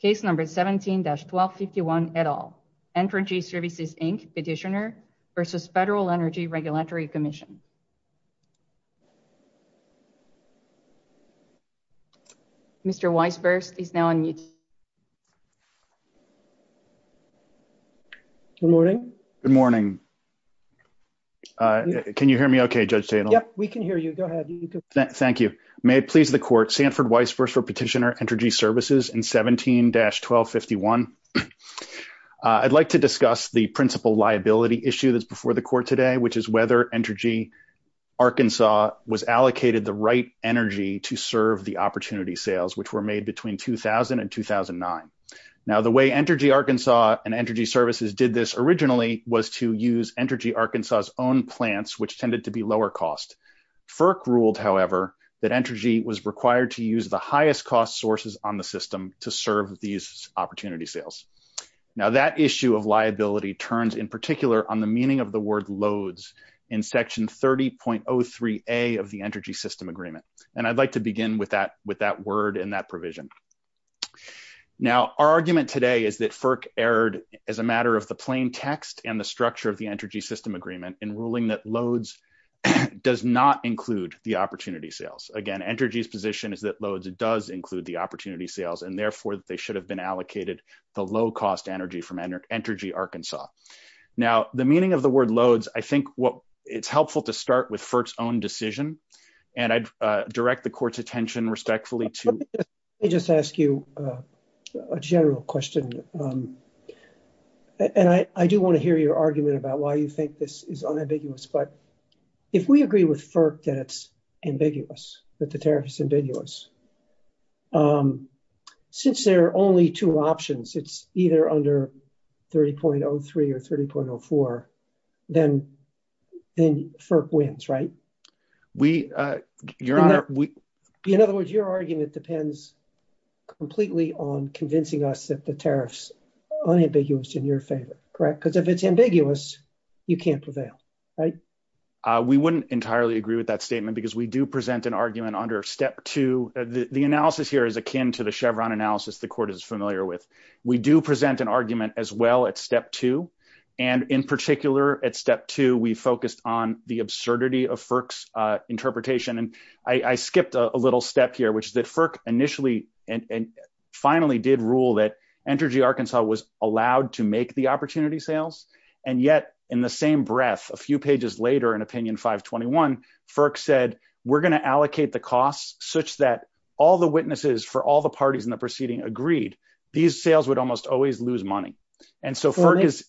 case number 17-1251 et al. Entergy Services, Inc. Petitioner v. Federal Energy Regulatory Commission. Mr. Weisberg is now on mute. Good morning. Good morning. Can you hear me okay, Judge Stahel? Yeah, we can hear you. Go ahead. Thank you. May it please the court, Sanford Weisberg for Petitioner, Entergy Services and 17-1251. I'd like to discuss the principal liability issue that's before the court today, which is whether Entergy Arkansas was allocated the right energy to serve the opportunity sales, which were made between 2000 and 2009. Now, the way Entergy Arkansas and Entergy Services did this originally was to use Entergy Arkansas's own plants, which tended to be lower cost. FERC ruled, however, that Entergy was required to use the highest cost sources on the system to serve these opportunity sales. Now, that issue of liability turns in particular on the meaning of the word loads in Section 30.03a of the Entergy System Agreement, and I'd like to begin with that word and that provision. Now, our argument today is that FERC erred as a matter of plain text and the structure of the Entergy System Agreement in ruling that loads does not include the opportunity sales. Again, Entergy's position is that loads does include the opportunity sales, and therefore, they should have been allocated the low-cost energy from Entergy Arkansas. Now, the meaning of the word loads, I think it's helpful to start with FERC's own decision, and I'd direct the court's attention respectfully to... I do want to hear your argument about why you think this is unambiguous, but if we agree with FERC that it's ambiguous, that the tariff's ambiguous, since there are only two options, it's either under 30.03 or 30.04, then FERC wins, right? In other words, your argument depends completely on convincing us that the tariff's correct, because if it's ambiguous, you can't prevail, right? We wouldn't entirely agree with that statement because we do present an argument under step two. The analysis here is akin to the Chevron analysis the court is familiar with. We do present an argument as well at step two, and in particular, at step two, we focused on the absurdity of FERC's interpretation, and I skipped a little step here, which is that FERC initially and finally did rule that Energy Arkansas was allowed to make the opportunity sales, and yet in the same breath, a few pages later in opinion 521, FERC said, we're going to allocate the costs such that all the witnesses for all the parties in the proceeding agreed, these sales would almost always lose money, and so FERC is... For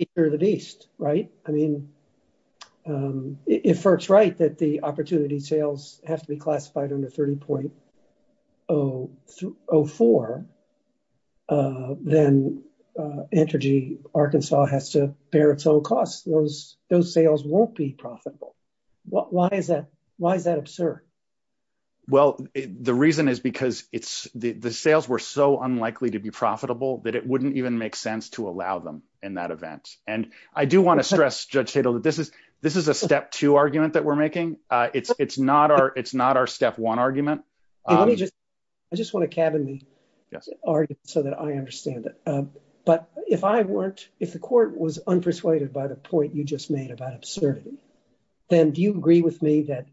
me, you're the beast, right? I mean, if FERC's right that the opportunity sales has to be classified under 30.04, then Energy Arkansas has to bear its own costs. Those sales won't be profitable. Why is that absurd? Well, the reason is because the sales were so unlikely to be profitable that it wouldn't even make sense to allow them in that event, and I do want to stress, Judge Hatel, that this is a step two argument that we're making. It's not our step one argument. I just want to cabin the argument so that I understand it, but if I weren't... If the court was unpersuaded by the point you just made about absurdity, then do you agree with me that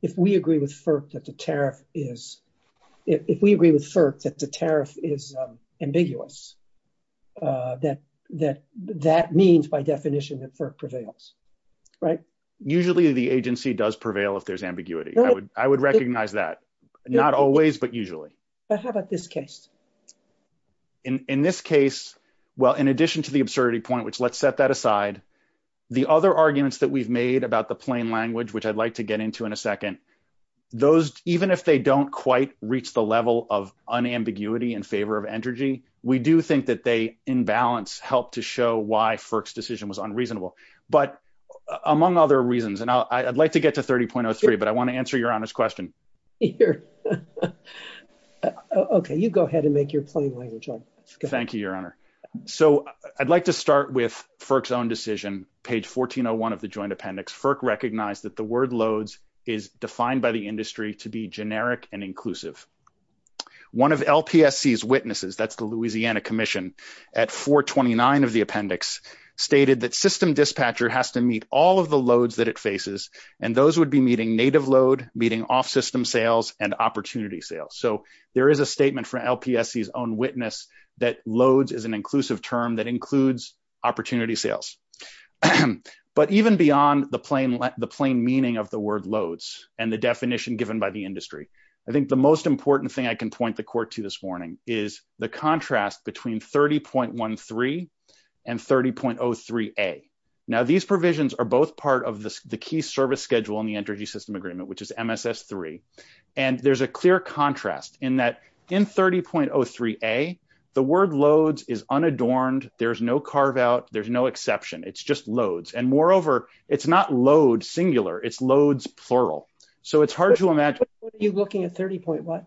if we the tariff is ambiguous, that that means by definition that FERC prevails, right? Usually, the agency does prevail if there's ambiguity. I would recognize that. Not always, but usually. How about this case? In this case, well, in addition to the absurdity point, which let's set that aside, the other arguments that we've made about the plain language, which I'd like to get into in a unambiguity in favor of Entergy, we do think that they, in balance, help to show why FERC's decision was unreasonable, but among other reasons, and I'd like to get to 30.03, but I want to answer Your Honor's question. Okay, you go ahead and make your plain language. Thank you, Your Honor. So I'd like to start with FERC's own decision, page 1401 of the joint appendix. FERC recognized that the word loads is defined by the industry to be generic and inclusive. One of LPSC's witnesses, that's the Louisiana Commission, at 429 of the appendix stated that system dispatcher has to meet all of the loads that it faces, and those would be meeting native load, meeting off-system sales, and opportunity sales. So there is a statement from LPSC's own witness that loads is an inclusive term that includes opportunity sales. But even beyond the plain meaning of the word loads and the definition given by the industry, I think the most important thing I can point the court to this morning is the contrast between 30.13 and 30.03a. Now, these provisions are both part of the key service schedule in the Entergy System Agreement, which is MSS3, and there's a clear contrast in that in 30.03a, the word loads is unadorned. There's no carve-out. There's no exception. It's just looking at 30.03a,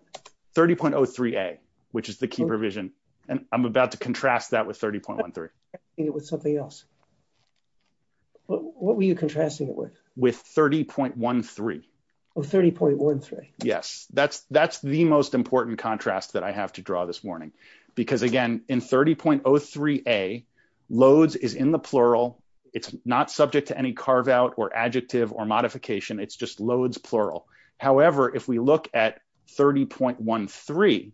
which is the key provision, and I'm about to contrast that with 30.13. What were you contrasting it with? With 30.13. Yes, that's the most important contrast that I have to draw this morning. Because again, in 30.03a, loads is in the plural. It's not subject to any carve-out or adjective or if we look at 30.13,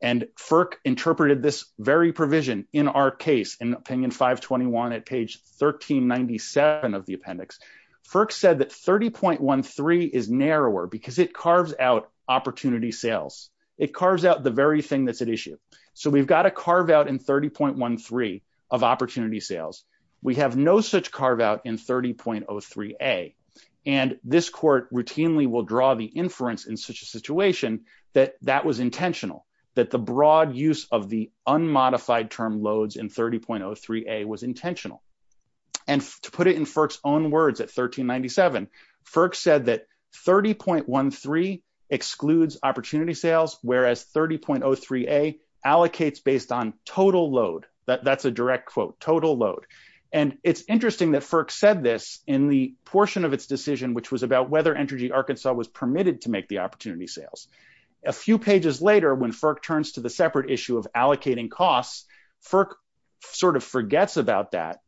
and FERC interpreted this very provision in our case in opinion 521 at page 1397 of the appendix, FERC said that 30.13 is narrower because it carves out opportunity sales. It carves out the very thing that's at issue. So we've got a carve-out in 30.13 of opportunity inference in such a situation that that was intentional, that the broad use of the unmodified term loads in 30.03a was intentional. To put it in FERC's own words at 1397, FERC said that 30.13 excludes opportunity sales, whereas 30.03a allocates based on total load. That's a direct quote, total load. It's interesting that FERC said this in the portion of its decision, which was about whether Entergy Arkansas was permitted to make the opportunity sales. A few pages later, when FERC turns to the separate issue of allocating costs, FERC sort of forgets about that.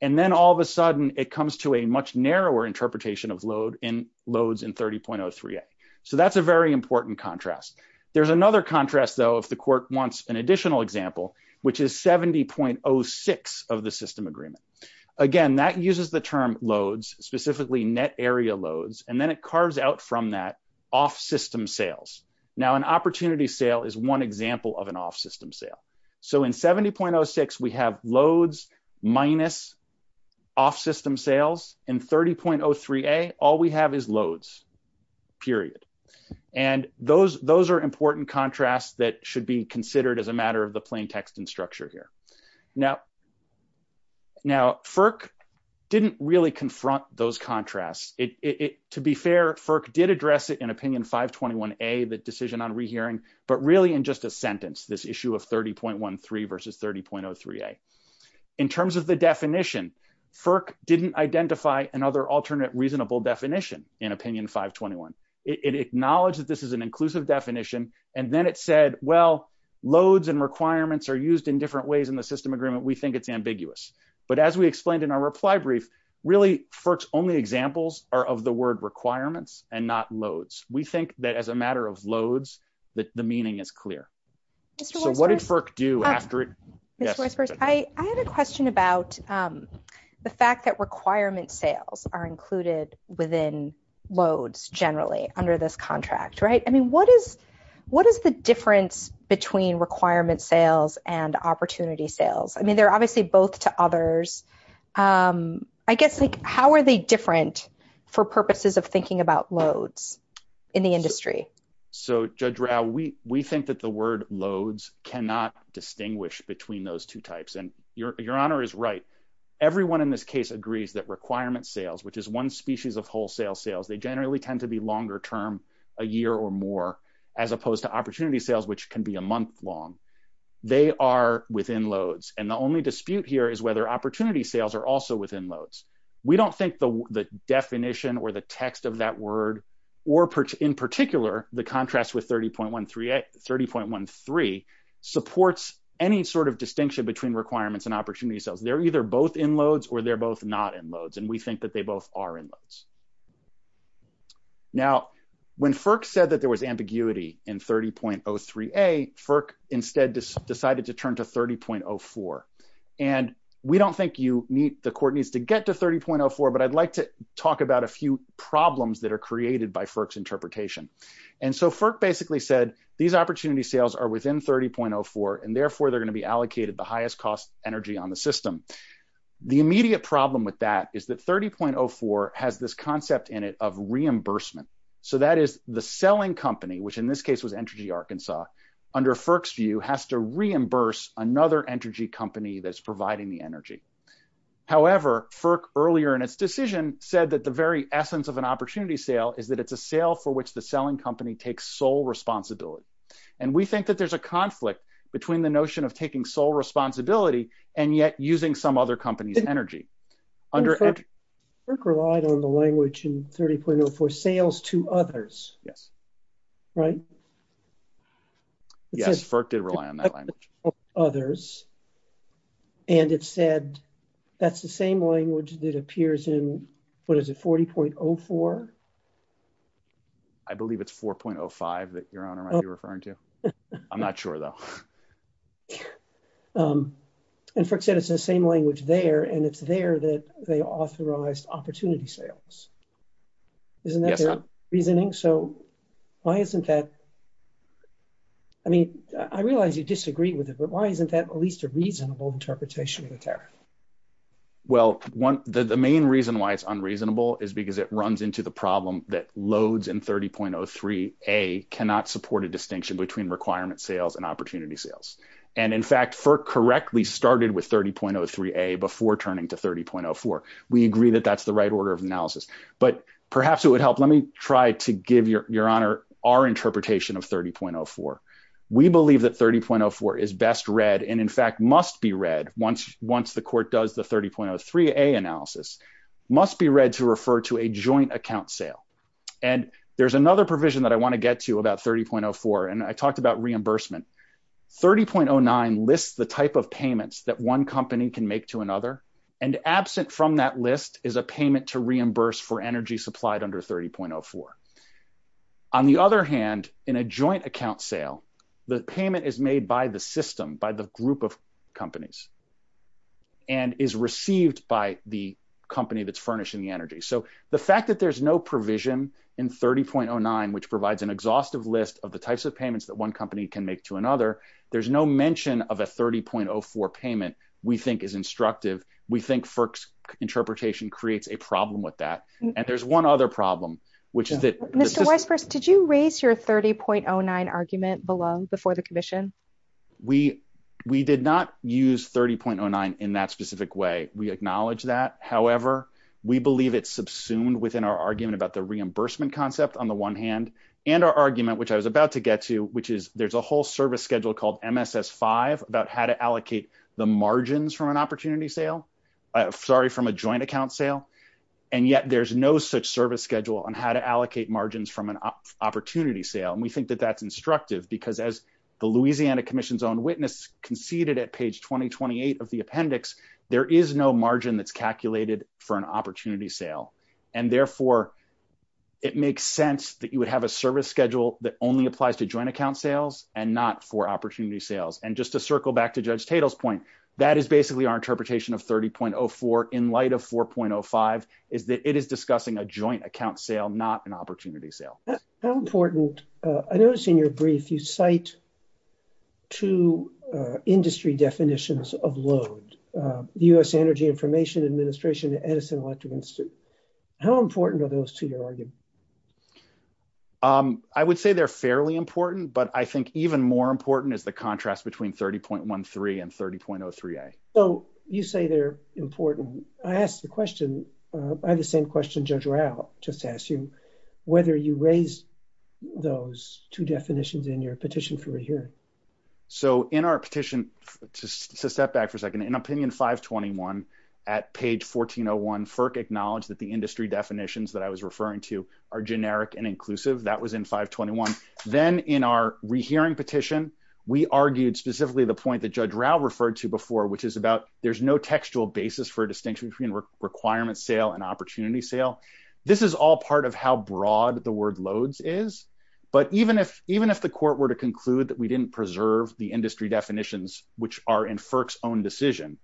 And then all of a sudden, it comes to a much narrower interpretation of loads in 30.03a. So that's a very important contrast. There's another contrast though, if the court wants an additional example, which is 70.06 of the system agreement. Again, that uses the term loads, specifically net area loads, and then it carves out from that off-system sales. Now, an opportunity sale is one example of an off-system sale. So in 70.06, we have loads minus off-system sales. In 30.03a, all we have is loads, period. And those are important contrasts that should be considered as a matter of the plain text and structure here. Now, FERC didn't really confront those contrasts. To be fair, FERC did address it in Opinion 521a, the decision on rehearing, but really in just a sentence, this issue of 30.13 versus 30.03a. In terms of the definition, FERC didn't identify another alternate reasonable definition in Opinion 521. It acknowledged that this is an inclusive definition, and then it said, well, loads and requirements are used in different ways in the system agreement. We think it's ambiguous. But as we explained in our reply brief, really, FERC's only examples are of the word requirements and not loads. We think that as a matter of loads, that the meaning is clear. So what did FERC do? Joyce, I have a question about the fact that requirement sales are included within loads, generally, under this contract, right? I mean, what is the difference between requirement sales and opportunity sales? I mean, they're obviously both to others. I guess, how are they different for purposes of thinking about loads in the industry? So, Judge Rao, we think that the word loads cannot distinguish between those two types. And your Honor is right. Everyone in this case agrees that requirement sales, which is one species of wholesale sales, they generally tend to be longer term, a year or more, as opposed to opportunity sales, which can be a month long. They are within loads. And the only dispute here is whether opportunity sales are also within loads. We don't think the definition or the text of that word, or in particular, the contrast with 30.13 supports any sort of distinction between requirements and opportunity sales. They're either both in loads or they're both not in loads. And we think that they both are in loads. Now, when FERC said that there was ambiguity in 30.03a, FERC instead decided to turn to 30.04. And we don't think the court needs to get to 30.04, but I'd like to point out some problems that are created by FERC's interpretation. And so, FERC basically said, these opportunity sales are within 30.04, and therefore, they're going to be allocated the highest cost energy on the system. The immediate problem with that is that 30.04 has this concept in it of reimbursement. So, that is the selling company, which in this case was Energy Arkansas, under FERC's view, has to reimburse another energy company that's providing the energy. However, FERC earlier in its decision said that the very essence of an opportunity sale is that it's a sale for which the selling company takes sole responsibility. And we think that there's a conflict between the notion of taking sole responsibility and yet using some other company's energy. FERC relied on the language in 30.04, sales to others, right? Yes, FERC did rely on others. And it said that's the same language that appears in, what is it, 40.04? I believe it's 4.05 that your Honor might be referring to. I'm not sure though. And FERC said it's the same language there, and it's there that they authorized opportunity sales. Isn't that their reasoning? So, why isn't that, I mean, I realize you disagree with it, but why isn't that at least a reasonable interpretation there? Well, the main reason why it's unreasonable is because it runs into the problem that loads in 30.03A cannot support a distinction between requirement sales and opportunity sales. And in fact, FERC correctly started with 30.03A before turning to 30.04. We agree that that's the right order of analysis, but perhaps it would help. Let me try to give your Honor our interpretation of 30.04. We believe that 30.04 is best read and in fact must be read once the court does the 30.03A analysis, must be read to refer to a joint account sale. And there's another provision that I want to get to about 30.04, and I talked about reimbursement. 30.09 lists the type of payments that one company can make to another, and absent from that list is a payment to reimburse for energy supplied under 30.04. On the other hand, in a joint account sale, the payment is made by the system, by the group of companies and is received by the company that's furnishing the energy. So, the fact that there's no provision in 30.09, which provides an exhaustive list of the types of payments that one company can make to another, there's no mention of a 30.04 payment we think is instructive. We think FERC's interpretation creates a problem with that. And there's one other problem, which is that... Mr. Weisbrot, did you raise your 30.09 argument below before the commission? We did not use 30.09 in that specific way. We acknowledge that. However, we believe it's subsumed within our argument about the reimbursement concept on the one hand, and our argument, which I was about to get to, which is there's a whole service schedule called MSS-5 about how to allocate the margins from a joint account sale. And yet, there's no such service schedule on how to allocate margins from an opportunity sale. And we think that that's instructive because as the Louisiana Commission's own witness conceded at page 2028 of the appendix, there is no margin that's calculated for an opportunity sale. And therefore, it makes sense that you would have a service schedule that only applies to joint account sales and not for opportunity sales. And just to circle back to Judge Tatel's point, that is basically our interpretation of 30.04 in light of 4.05, is that it is discussing a joint account sale, not an opportunity sale. How important... I noticed in your brief, you cite two industry definitions of load, the U.S. Energy Information Administration and Edison Electric Institute. How important are those to your argument? I would say they're fairly important, but I think even more important is the contrast between 30.13 and 30.03a. So you say they're important. I have the same question Judge Rowell just asked you, whether you raise those two definitions in your petition for a hearing. So in our petition, to step back for a second, in opinion 521 at page 1401, FERC acknowledged that the industry definitions that I was referring to are generic and inclusive. That was in 521. Then in our rehearing petition, we argued specifically the point that Judge Rowell referred to before, which is about there's no textual basis for a distinction between requirement sale and opportunity sale. This is all part of how broad the word loads is. But even if the court were to conclude that we didn't preserve the industry definitions, which are in FERC's own decision,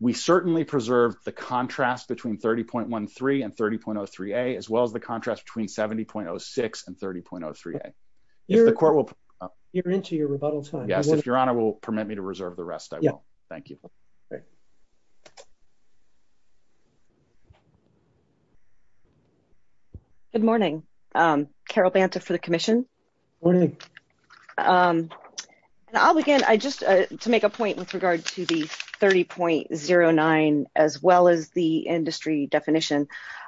we certainly preserve the contrast between 30.13 and 30.03a, as well as the contrast between 70.06 and 30.03a. You're into your rebuttal time. Yes. If your honor will permit me to reserve the rest, I will. Thank you. Good morning. Carol Banta for the commission. I'll begin. To make a point with regard to the 30.09, as well as the industry definition,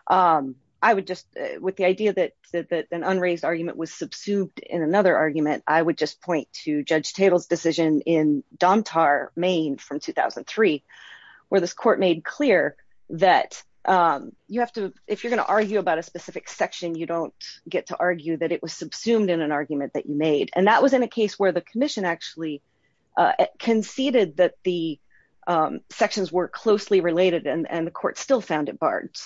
I would just, with the idea that an unraised argument was subsumed in another argument, I would just point to Judge Table's decision in Domtar, Maine from 2003, where this court made clear that if you're going to argue about a specific section, you don't get to argue that it was subsumed in an argument that you made. That was in a case where the commission actually conceded that the sections were closely related and the court still found it barred.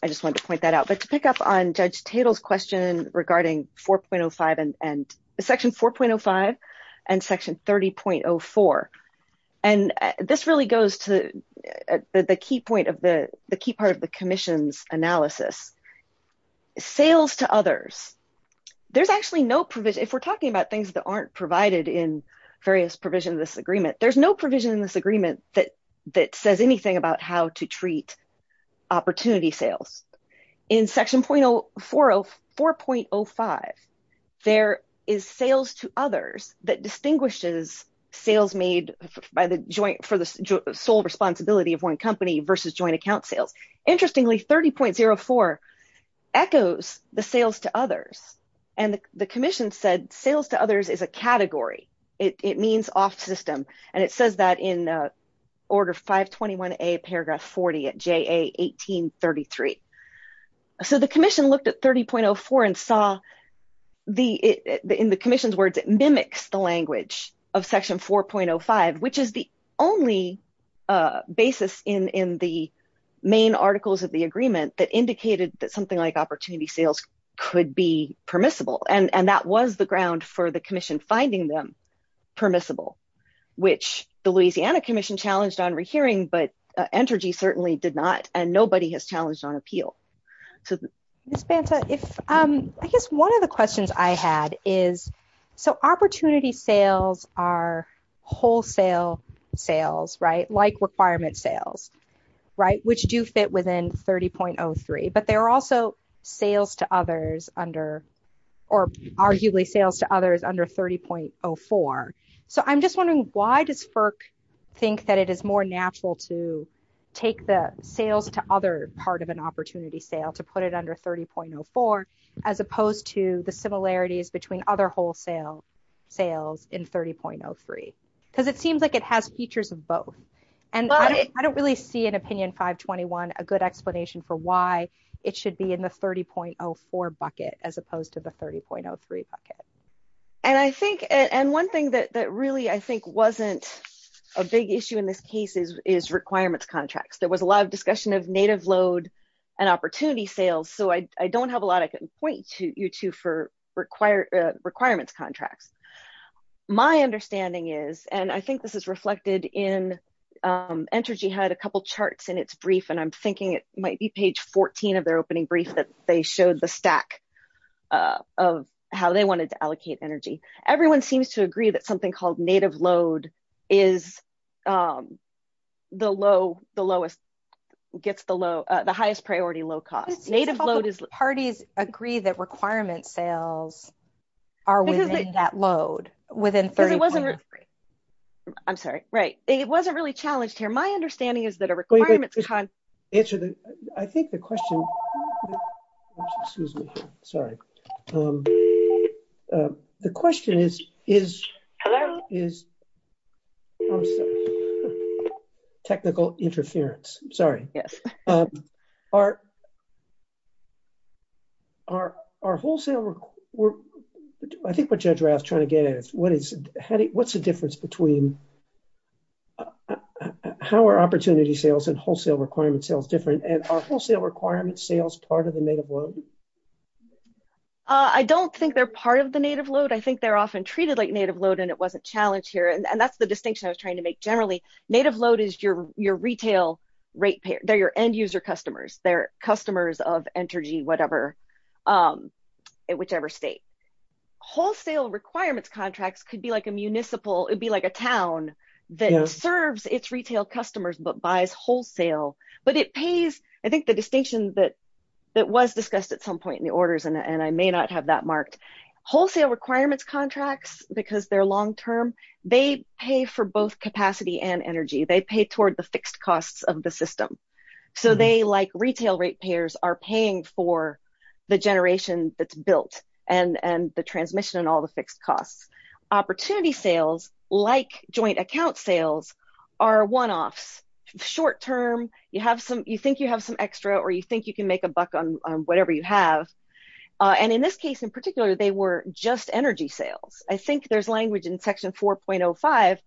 I just wanted to point that out, but to pick up on Judge Table's question regarding section 4.05 and section 30.04. This really goes to the key part of the commission's analysis. Sales to others. If we're talking about things that aren't provided in various provisions of this agreement, there's no provision in this agreement that says anything about how to treat opportunity sales. In section 4.05, there is sales to others that distinguishes sales made for the sole responsibility of one company versus joint account sales. Interestingly, 30.04 echoes the sales to others, and the commission said sales to others is a 1833. The commission looked at 30.04 and saw in the commission's words, it mimics the language of section 4.05, which is the only basis in the main articles of the agreement that indicated that something like opportunity sales could be permissible. That was the ground for the commission finding them permissible, which the Louisiana Commission challenged on rehearing, but Entergy certainly did not, and nobody has challenged on appeal. I guess one of the questions I had is, so opportunity sales are wholesale sales, like requirement sales, which do fit within 30.03, but they're also sales to others under, or arguably sales to others under 30.04. I'm just wondering, why does FERC think that it is more natural to take the sales to other part of an opportunity sale, to put it under 30.04, as opposed to the similarities between other wholesale sales in 30.03? Because it seems like it has features of both. I don't really see in Opinion 521 a good explanation for why it should be in the 30.04 bucket as opposed to the 30.03 bucket. And I think, and one thing that really, I think, wasn't a big issue in this case is requirements contracts. There was a lot of discussion of native load and opportunity sales, so I don't have a lot I can point you to for requirements contracts. My understanding is, and I think this is reflected in, Entergy had a couple charts in its brief, and I'm thinking it showed the stack of how they wanted to allocate energy. Everyone seems to agree that something called native load is the lowest, gets the highest priority low cost. Native load is- Parties agree that requirement sales are within that load, within 30.03. I'm sorry. Right. It wasn't really challenged here. My understanding is that a requirement contract- I think the question- Excuse me. Sorry. The question is- Hello? Is- I'm sorry. Technical interference. I'm sorry. Yes. Are wholesale- I think what you're trying to get at is what's the difference between how are opportunity sales and wholesale requirement sales different, and are wholesale requirement sales part of the native load? I don't think they're part of the native load. I think they're often treated like native load, and it wasn't challenged here, and that's the distinction I was trying to make. Generally, native load is your retail rate payer. They're your end user customers. They're customers of Entergy, whatever, whichever state. Wholesale requirements contracts could be like a town that serves its retail customers but buys wholesale, but it pays- I think the distinction that was discussed at some point in the orders, and I may not have that marked. Wholesale requirements contracts, because they're long-term, they pay for both capacity and energy. They pay toward the fixed costs of the system. They, like retail rate payers, are paying for the generation that's built and the transmission and all the fixed costs. Opportunity sales, like joint account sales, are one-offs. Short-term, you think you have some extra, or you think you can make a buck on whatever you have, and in this case in particular, they were just energy sales. I think there's language in section 4.05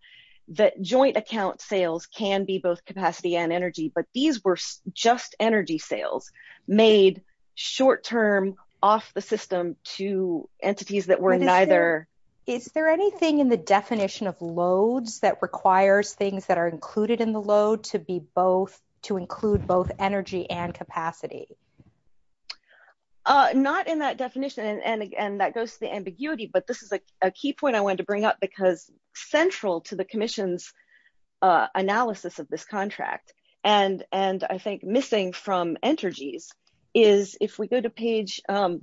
that joint account sales can be both capacity and energy, but these were just energy sales made short-term off the system to entities that were neither. Is there anything in the definition of loads that requires things that are included in the load to include both energy and capacity? Not in that definition, and that goes to the ambiguity, but this is a key point I wanted to bring up because central to the commission's analysis of this contract, and I think missing from Entergy's, is if we go to page, I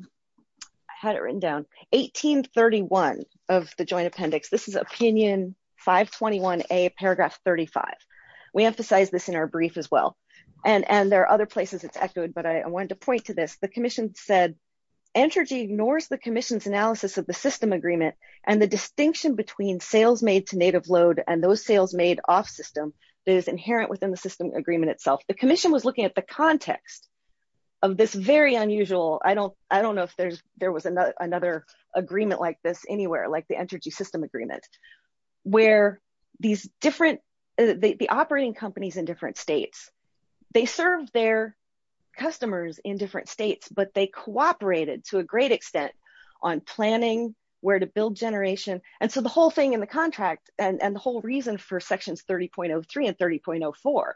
had it written down, 1831 of the joint appendix. This is opinion 521A, paragraph 35. We emphasize this in our brief as well, and there are other places it's echoed, but I wanted to point to this. The commission said, Entergy ignores the commission's analysis of the system agreement and the distinction between sales made to native load and those sales made off system that is inherent within the system agreement itself. The commission was looking at the context of this very unusual, I don't know if there was another agreement like this anywhere, like the Entergy system agreement, where these different, the operating companies in different states, they served their customers in different states, but they cooperated to a great extent on planning, where to build generation, and so the whole thing in the contract and the reason for sections 30.03 and 30.04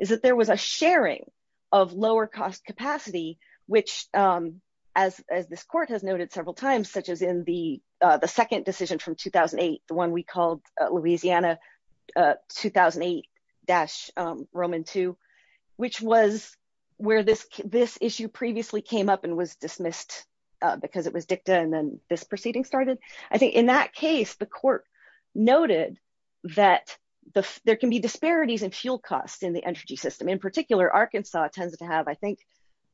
is that there was a sharing of lower cost capacity, which as this court has noted several times, such as in the second decision from 2008, the one we called Louisiana 2008-Roman 2, which was where this issue previously came up and was dismissed because it was dicta and then this proceeding started. I think in that case, the court noted that there can be disparities in fuel cost in the Entergy system. In particular, Arkansas tends to have, I think,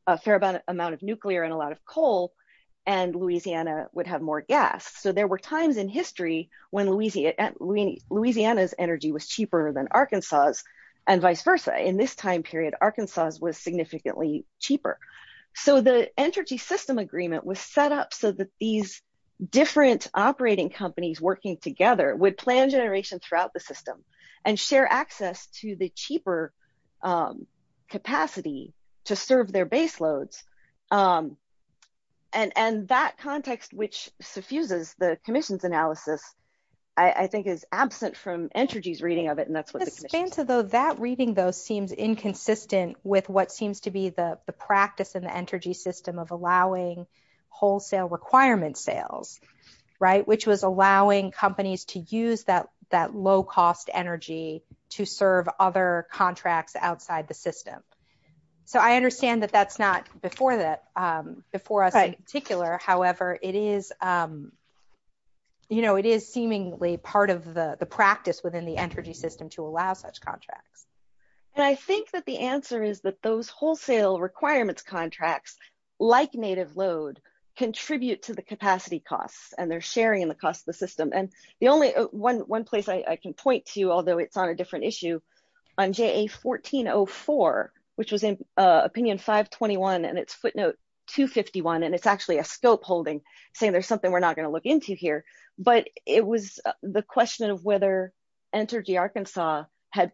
a fair amount of nuclear and a lot of coal and Louisiana would have more gas. So there were times in history when Louisiana's energy was cheaper than Arkansas's and vice versa. In this time period, Arkansas's was significantly cheaper. So the Entergy system agreement was set up so that these different operating companies working together would plan generation throughout the system and share access to the cheaper capacity to serve their baseloads. And that context, which suffuses the commission's analysis, I think is absent from Entergy's reading of it and that's what the commission... It seems as though that reading, though, seems inconsistent with what seems to be the practice in the Entergy system of allowing wholesale requirement sales, right, which was allowing companies to use that low-cost energy to serve other contracts outside the system. So I understand that that's not before us in particular. However, it is seemingly part of the practice within the Entergy system to allow such contracts. And I think that the answer is that those wholesale requirements contracts, like native load, contribute to the capacity costs and they're sharing the cost of the system. And the only one place I can point to, although it's on a different issue, on JA1404, which is in opinion 521 and it's footnote 251, and it's actually a scope holding saying there's something we're not going to look into here, but it was the question of whether Entergy Arkansas had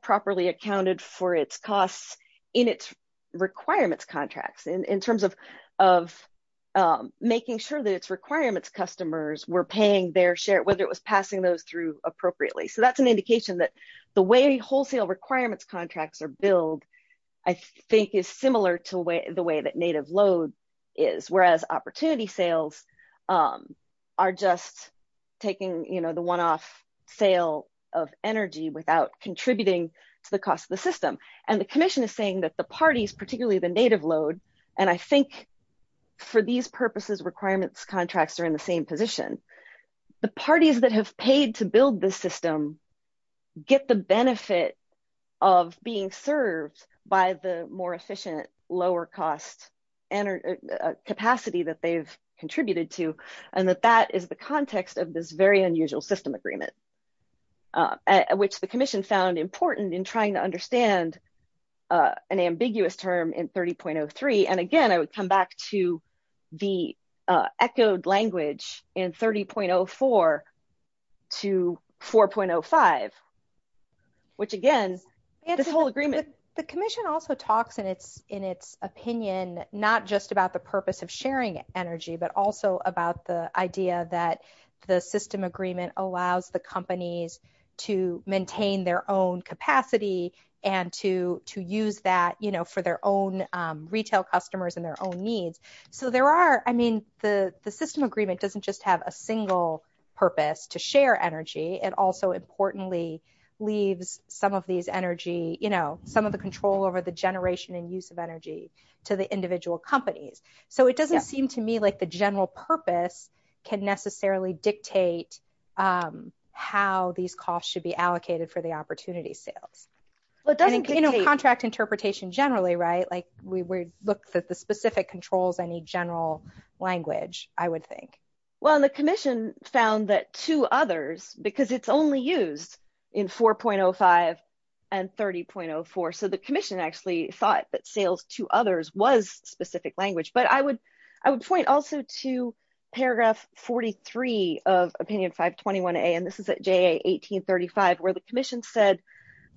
making sure that its requirements customers were paying their share, whether it was passing those through appropriately. So that's an indication that the way wholesale requirements contracts are billed I think is similar to the way that native load is, whereas opportunity sales are just taking the one-off sale of energy without contributing to the cost of the system. And the commission is saying that the parties, particularly the native load, and I think for these purposes, requirements contracts are in the same position. The parties that have paid to build this system get the benefit of being served by the more efficient, lower cost capacity that they've contributed to, and that that is the context of this very unusual system agreement, which the commission found important in trying to understand an ambiguous term in 30.03. And again, I would come back to the echoed language in 30.04 to 4.05, which again, this whole agreement. The commission also talks in its opinion not just about the purpose of sharing energy, but also about the idea that the system agreement allows the companies to maintain their own needs. So the system agreement doesn't just have a single purpose to share energy. It also importantly leaves some of the control over the generation and use of energy to the individual companies. So it doesn't seem to me like the general purpose can necessarily dictate how these costs should be allocated for the opportunity sales. Contract interpretation generally, right? We looked at the specific controls, any general language, I would think. Well, the commission found that two others, because it's only used in 4.05 and 30.04. So the commission actually thought that sales to others was specific language, but I would point also to paragraph 43 of opinion 521A, and this is at JA 1835, where the commission said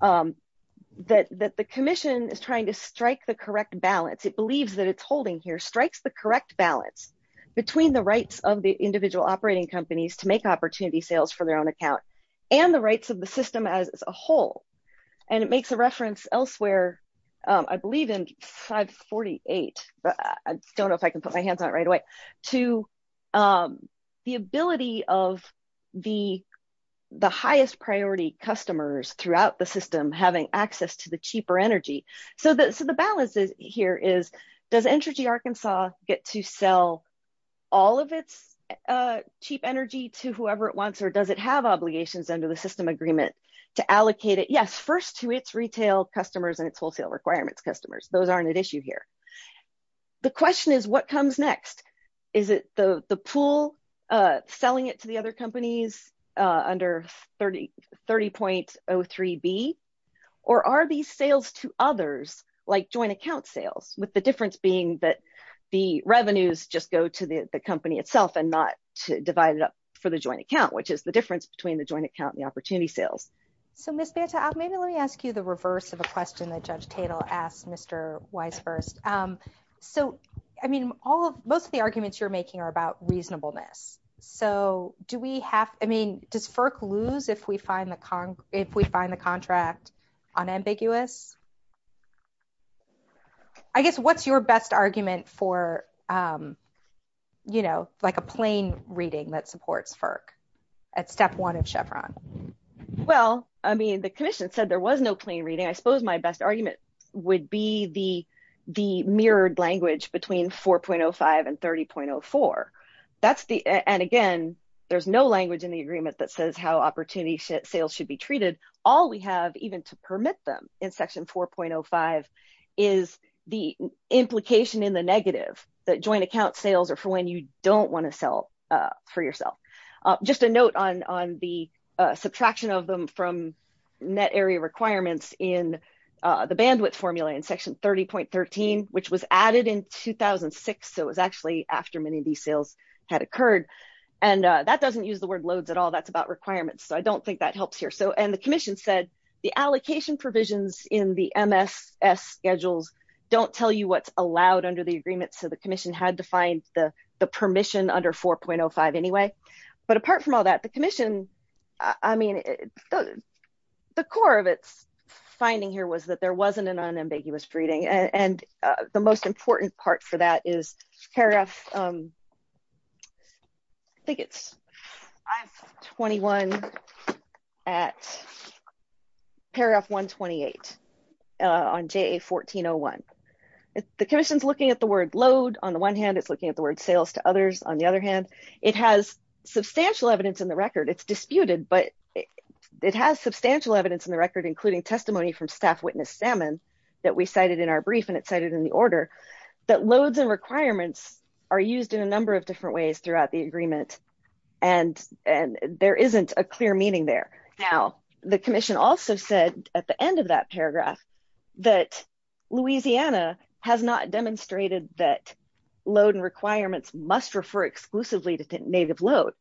that the commission is trying to balance, it believes that it's holding here, strikes the correct balance between the rights of the individual operating companies to make opportunity sales for their own account and the rights of the system as a whole. And it makes a reference elsewhere, I believe in 548, I don't know if I can put my hands on it right away, to the ability of the highest priority customers throughout the system having access to the cheaper energy. So the balance here is, does Entergy Arkansas get to sell all of its cheap energy to whoever it wants, or does it have obligations under the system agreement to allocate it? Yes, first to its retail customers and its wholesale requirements customers. Those aren't at issue here. The question is, what comes next? Is it the pool selling it to the other companies under 30.03B, or are these sales to others, like joint account sales, with the difference being that the revenues just go to the company itself and not divided up for the joint account, which is the difference between the joint account and the opportunity sales. So Ms. Banta, maybe let me ask you the reverse of a question that about reasonableness. So do we have, I mean, does FERC lose if we find the contract unambiguous? I guess what's your best argument for, you know, like a plain reading that supports FERC at step one in Chevron? Well, I mean, the commission said there was no plain reading. I suppose my best argument would be the mirrored language between 4.05 and 30.04. And again, there's no language in the agreement that says how opportunity sales should be treated. All we have even to permit them in section 4.05 is the implication in the negative, that joint account sales are for when you don't want to sell for yourself. Just a note on the from net area requirements in the bandwidth formula in section 30.13, which was added in 2006. So it was actually after many of these sales had occurred. And that doesn't use the word loads at all. That's about requirements. So I don't think that helps here. So, and the commission said the allocation provisions in the MSS schedule don't tell you what's allowed under the agreement. So the commission had to find the permission under 4.05 anyway. But apart from all that, the commission, I mean, the core of its finding here was that there wasn't an unambiguous reading. And the most important part for that is paragraph, I think it's I-21 at paragraph 128 on JA-1401. The commission's looking at the word load. On the one hand, it's looking at the word sales to others. On the other hand, it has substantial evidence in the record. It's disputed, but it has substantial evidence in the record, including testimony from staff witness stamina that we cited in our brief and it cited in the order that loads and requirements are used in a number of different ways throughout the agreement. And there isn't a clear meaning there. Now, the commission also said at the end of that paragraph that Louisiana has not demonstrated that load and requirements must refer exclusively to native load.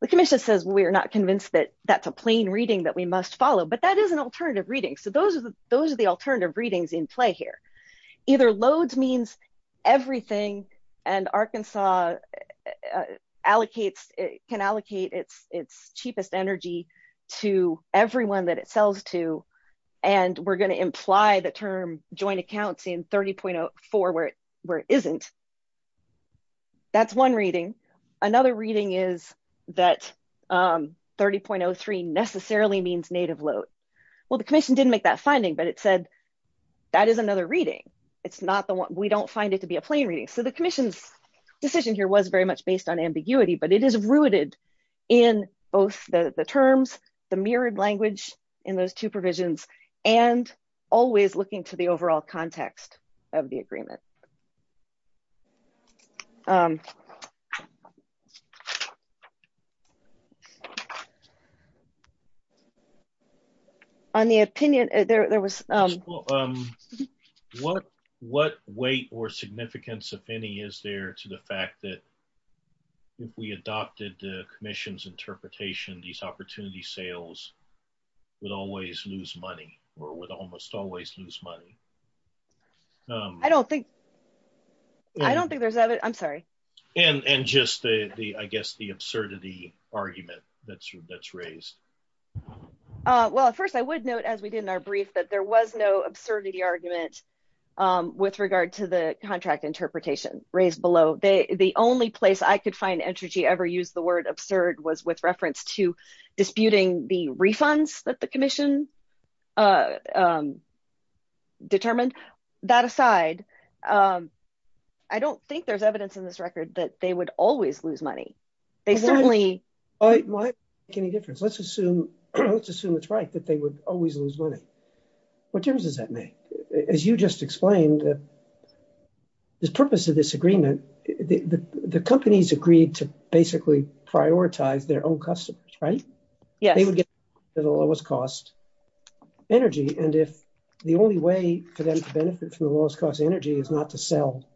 The commission says we are not convinced that that's a plain reading that we must follow, but that is an alternative reading. So those are the alternative readings in play here. Either loads means everything and Arkansas can allocate its cheapest energy to everyone that it sells to and we're going to imply the term joint accounts in 30.04 where it isn't. That's one reading. Another reading is that 30.03 necessarily means native load. Well, the commission didn't make that finding, but it said that is another reading. We don't find it to be a plain reading. So the commission's decision here was very much based on ambiguity, but it is rooted in both the terms, the mirrored language in those two provisions, and always looking to the overall context of the agreement. On the opinion, there was... What weight or significance of any is there to the fact that if we adopted the commission's interpretation, these opportunity sales would always lose money or would almost always lose money? I don't think there's... I'm sorry. And just, I guess, the absurdity argument that's raised. Well, first, I would note, as we did in our brief, that there was no absurdity argument with regard to the contract interpretation raised below. The only place I could find energy ever use the word absurd was with reference to disputing the refunds that the commission determined. That aside, I don't think there's evidence in this record that they would always lose money. They certainly... Why make any difference? Let's assume it's right that they would always lose money. What difference does that make? As you just explained, the purpose of this agreement, the companies agreed to basically prioritize their own customers, right? Yeah. They would get the lowest cost energy. And if the only way for them to benefit from the lowest cost energy is not to sell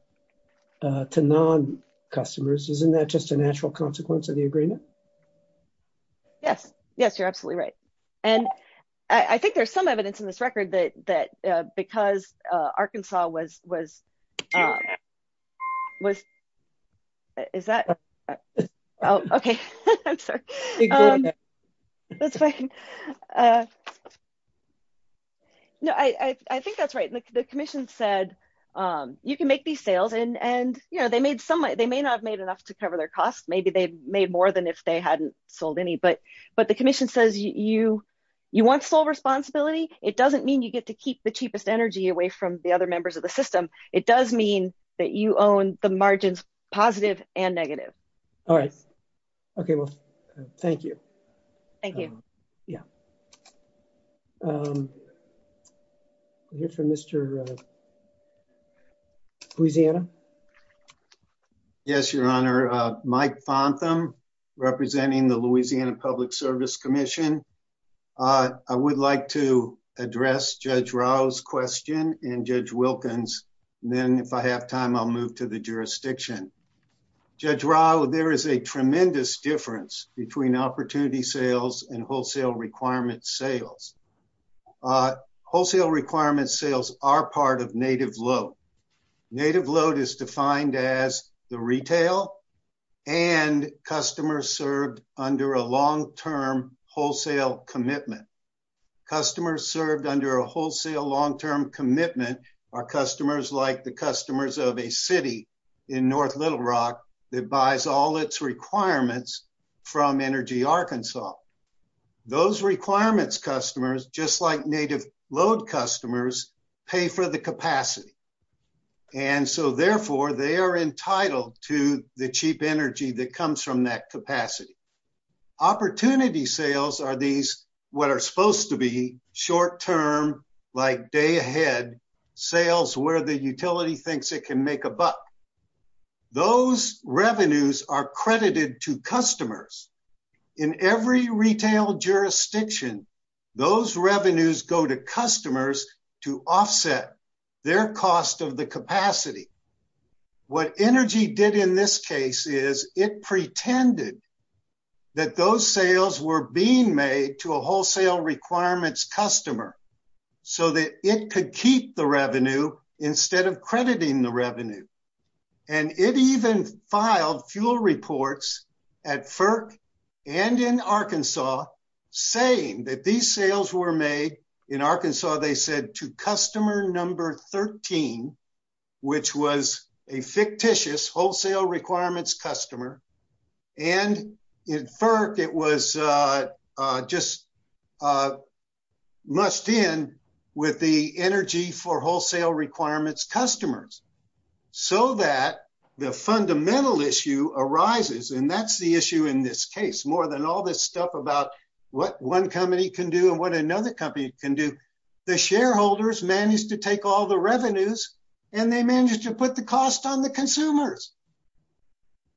to non-customers, isn't that just a natural consequence of the agreement? Yes. Yes, you're absolutely right. And I think there's some evidence in this record that because Arkansas was... Is that... Oh, okay. I'm sorry. No, I think that's right. The commission said, you can make these sales and they made some... They may not have made enough to cover their costs. Maybe they've made more than if they hadn't sold any. But the commission says, you want full responsibility? It doesn't mean you get to keep the cheapest energy away from the other members of the system. It does mean that you own the margins, positive and negative. All right. Okay. Well, thank you. Thank you. Yeah. We'll hear from Mr. Louisiana. Yes, Your Honor. Mike Fontham, representing the Louisiana Public Service Commission. I would like to address Judge Rao's question and Judge Wilkins. And then if I have time, I'll move to the jurisdiction. Judge Rao, there is a tremendous difference between opportunity sales and wholesale requirement sales. Wholesale requirement sales are part of native load. Native load is defined as the retail and customers served under a long-term wholesale commitment. Customers served under a wholesale long-term commitment are customers like the customers of a city in North Little Rock that buys all its requirements from Energy Arkansas. Those requirements customers, just like native load customers, pay for the capacity. And so, therefore, they are entitled to the cheap energy that comes from that capacity. Opportunity sales are these what are supposed to be short-term, like day ahead, sales where the retail jurisdiction, those revenues go to customers to offset their cost of the capacity. What Energy did in this case is it pretended that those sales were being made to a wholesale requirements customer so that it could keep the revenue instead of crediting the revenue. And it even filed fuel reports at FERC and in Arkansas saying that these sales were made in Arkansas, they said, to customer number 13, which was a fictitious wholesale requirements customer. And in FERC, it was just must end with the energy for wholesale requirements customers. So that the fundamental issue arises, and that's the issue in this case, more than all this stuff about what one company can do and what another company can do. The shareholders managed to take all the revenues and they managed to put the cost on the consumers.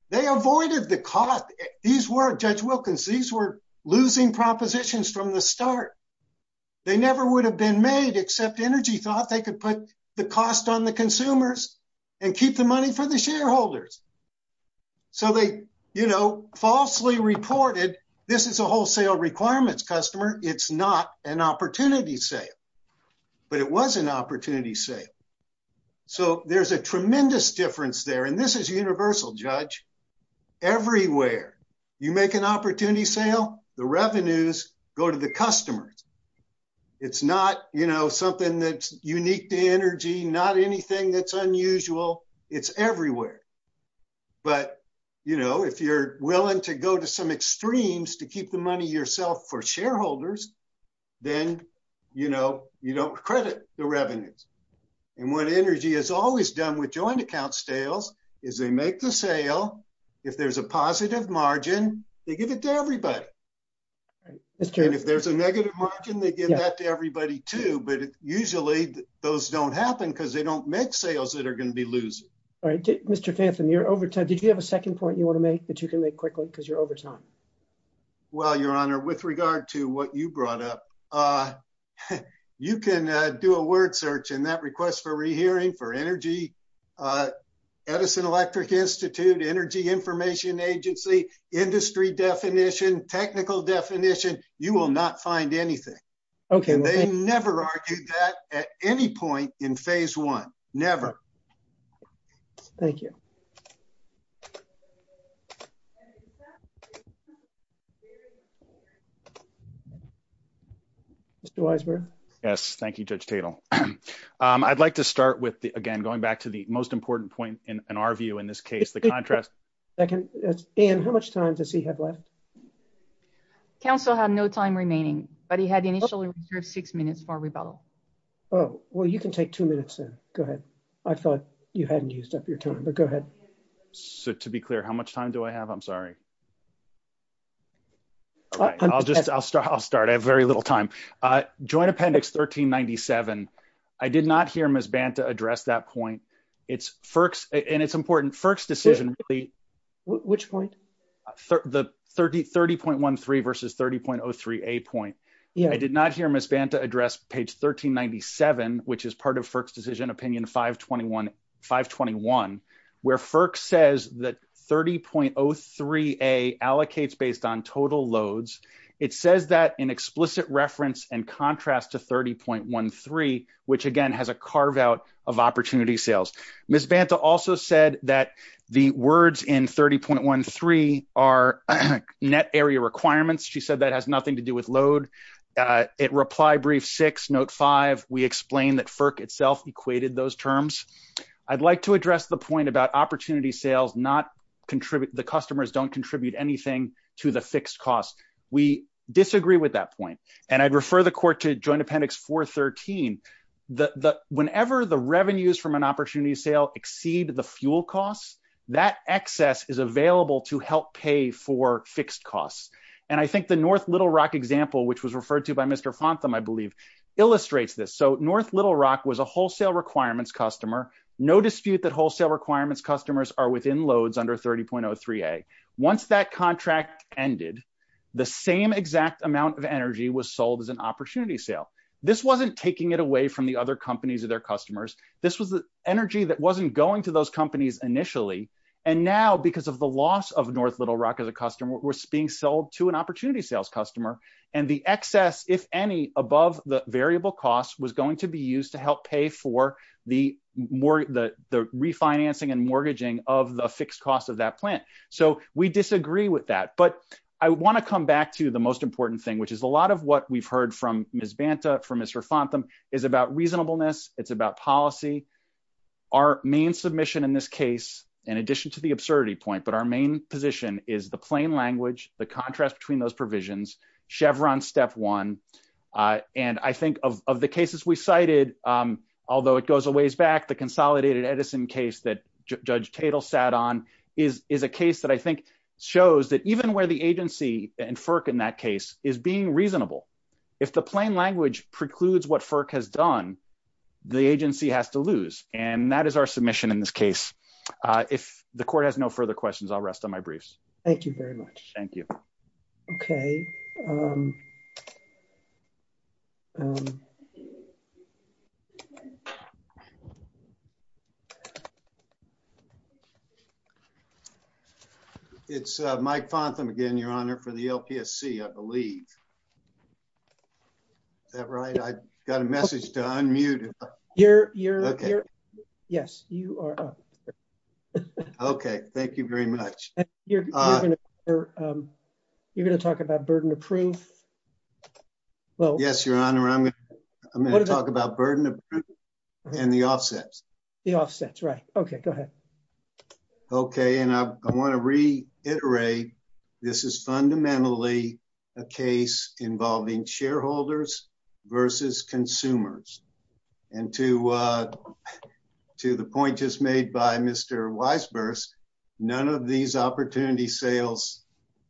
They avoided the cost. These were, Judge Wilkins, these were losing propositions from the start. They never would have been made except Energy thought they could put the cost on the consumers and keep the money for the shareholders. So they falsely reported, this is a wholesale requirements customer, it's not an opportunity sale. But it was an opportunity sale. So there's a tremendous difference there. And this is universal, Judge. Everywhere you make an opportunity sale, the revenues go to the customers. It's not something that's unique to Energy, not anything that's unusual, it's everywhere. But if you're willing to go to some extremes to keep the money yourself for shareholders, then you don't credit the revenues. And what Energy has always done with joint account sales is they make the sale, if there's a positive margin, they give it to everybody. And if there's a negative margin, they give that to everybody too. But usually those don't happen because they don't make sales that are going to be losing. All right, Mr. Fathom, you're over time. Did you have a second point you want to make that you can make quickly because you're over time? Well, Your Honor, with regard to what you brought up, you can do a word search in that request for rehearing for Edison Electric Institute, Energy Information Agency, industry definition, technical definition, you will not find anything. Okay. They never argued that at any point in phase one, never. Thank you. Mr. Weisberg. Yes, thank you, Judge Tatel. I'd like to start with, again, going back to the most important point in our view in this case, the contrast. Dan, how much time does he have left? Counsel had no time remaining, but he had initially reserved six minutes for rebuttal. Oh, well, you can take two minutes then. Go ahead. I thought you hadn't used up your time, but go ahead. So to be clear, how much time do I have? I'm sorry. I'll just, I'll start. I have very little time. Joint Appendix 1397. I did not hear Ms. Banta address that point. It's FERC's, and it's important, FERC's decision. Which point? The 30.13 versus 30.03a point. I did not hear Ms. Banta address page 1397, which is part of FERC's decision, opinion 521, where FERC says that 30.03a allocates based on total loads. It says that in explicit reference and contrast to 30.13, which again, has a carve out of opportunity sales. Ms. Banta also said that the words in 30.13 are net area requirements. She said that has nothing to do with load. At reply brief six, note five, we explained that FERC itself equated those terms. I'd like to address the point about opportunity sales, not contribute, the customers don't contribute anything to the fixed cost. We disagree with that point. And I'd refer the court to Joint Appendix 413. Whenever the revenues from an opportunity sale exceed the fuel costs, that excess is available to help pay for fixed costs. And I think the North Little Rock example, which was referred to by Mr. Fontham, I believe, illustrates this. So North Little Rock was a wholesale requirements customer. No dispute that wholesale requirements customers are within under 30.03a. Once that contract ended, the same exact amount of energy was sold as an opportunity sale. This wasn't taking it away from the other companies or their customers. This was the energy that wasn't going to those companies initially. And now because of the loss of North Little Rock as a customer, it was being sold to an opportunity sales customer. And the excess, if any, above the fixed cost of that plant. So we disagree with that. But I want to come back to the most important thing, which is a lot of what we've heard from Ms. Banta, from Mr. Fontham, is about reasonableness. It's about policy. Our main submission in this case, in addition to the absurdity point, but our main position is the plain language, the contrast between those provisions, Chevron step one. And I think of the cases we cited, although it goes a ways back, the consolidated Edison case that Judge Tatel sat on is a case that I think shows that even where the agency and FERC in that case is being reasonable, if the plain language precludes what FERC has done, the agency has to lose. And that is our submission in this case. If the court has no further questions, I'll rest on my briefs. Thank you very much. Thank you. Okay. It's Mike Fontham again, Your Honor, for the LPSC, I believe. Is that right? I got a message to unmute. Yes, you are. Okay. Thank you very much. You're going to talk about burden of proof? Yes, Your Honor. I'm going to talk about burden of proof and the offsets. The offsets, right. Okay. Go ahead. Okay. And I want to reiterate, this is fundamentally a case involving shareholders versus consumers. And to the point just made by Mr. Weisburst, none of these opportunity sales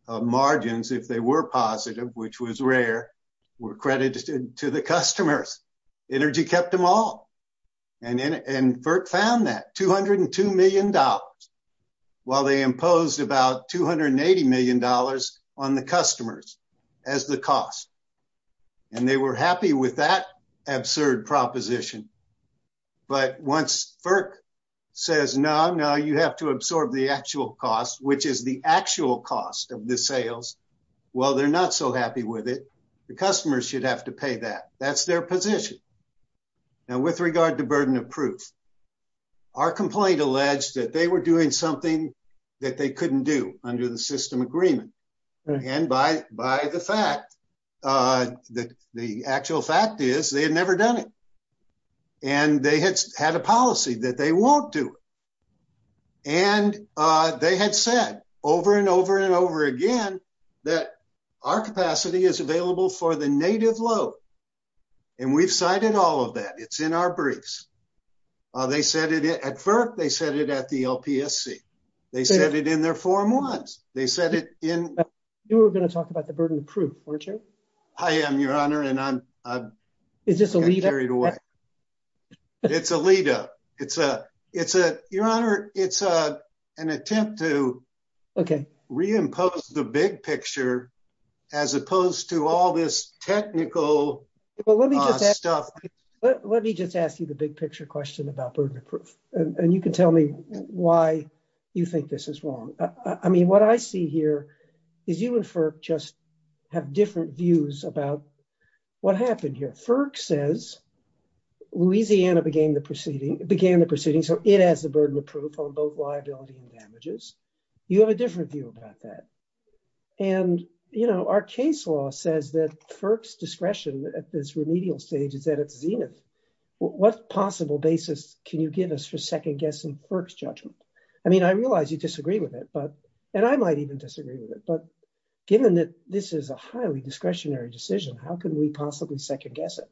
margins, if they were positive, which was rare, were credited to the customers. Energy kept them all. And FERC found that $202 million while they imposed about $280 million on the customers as the cost. And they were happy with that absurd proposition. But once FERC says, no, no, you have to absorb the actual cost, which is the actual cost of the sales. Well, they're not so happy with it. The customers should have to pay that. That's their position. And with regard to burden of proof, our complaint alleged that they were doing something that they couldn't do under the system agreement. And by the fact, the actual fact is they had never done it. And they had had a policy that they won't do it. And they had said over and over and over again, that our capacity is available for the native load. And we've cited all of that. It's in our briefs. They said it at FERC. They said it at the LPSC. They said it in their form ones. They said it in... You were going to talk about the burden of proof, weren't you? I am, your honor. And I'm... Is this a lead up? It's a lead up. It's a... Your honor, it's an attempt to... Okay. ...reimpose the big picture, as opposed to all this technical stuff. Let me just ask you the big picture question about burden of proof. And you can tell me why you think this is wrong. I mean, what I see here is you and FERC just have different views about what happened here. FERC says, Louisiana began the proceeding, so it has the burden of proof on both liability and damages. You have a different view about that. And, you know, our case law says that FERC's discretion at this remedial stage is at its zenith. What possible basis can you give us for second guessing FERC's judgment? I mean, I realize you disagree with it, and I might even disagree with it. But given that this is a highly discretionary decision, how can we possibly second guess it?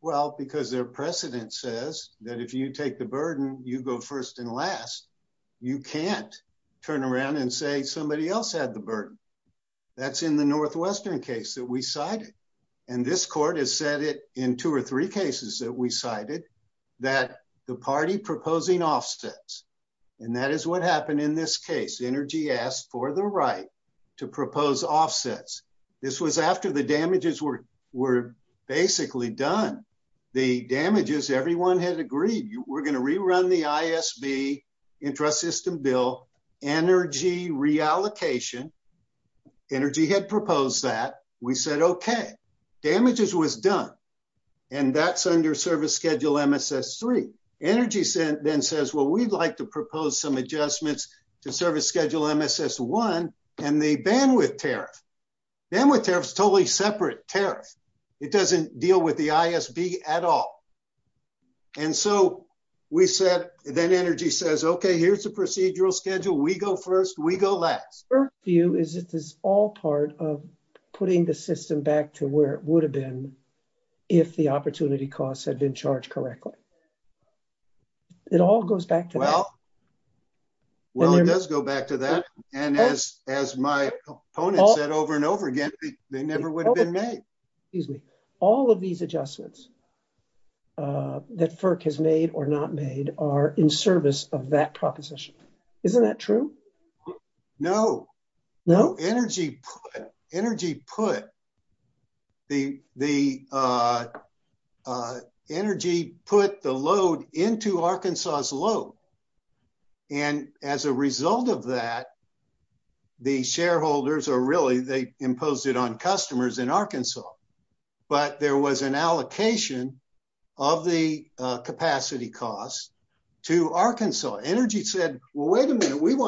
Well, because their precedent says that if you take the burden, you go first and last. You can't turn around and say somebody else had the burden. That's in the Northwestern case that we cited. And this court has said it in two or three cases that we cited, that the party proposing offsets. And that is what happened in this case. Energy asked for the right to propose offsets. This was after the damages were basically done. The damages, everyone has agreed, we're going to rerun the ISB intrasystem bill, energy reallocation. Energy had proposed that. We said, okay. Damages was done. And that's under service schedule MSS3. Energy then says, well, we'd like to propose some adjustments to service schedule MSS1 and the bandwidth tariff. Bandwidth tariff is a totally separate tariff. It doesn't deal with the ISB at all. And so we said, then energy says, okay, here's the procedural schedule. We go first, we go last. Our view is that this is all part of putting the system back to where it would have been if the opportunity costs had been charged correctly. It all goes back to that. Well, it does go back to that. And as my opponent said over and over again, they never would have been made. Excuse me. All of these adjustments that FERC has made or not made are in service of that proposition. Isn't that true? No. Energy put the load into Arkansas' load. And as a result of that, the shareholders are really – they imposed it on customers in Arkansas. But there was an opportunity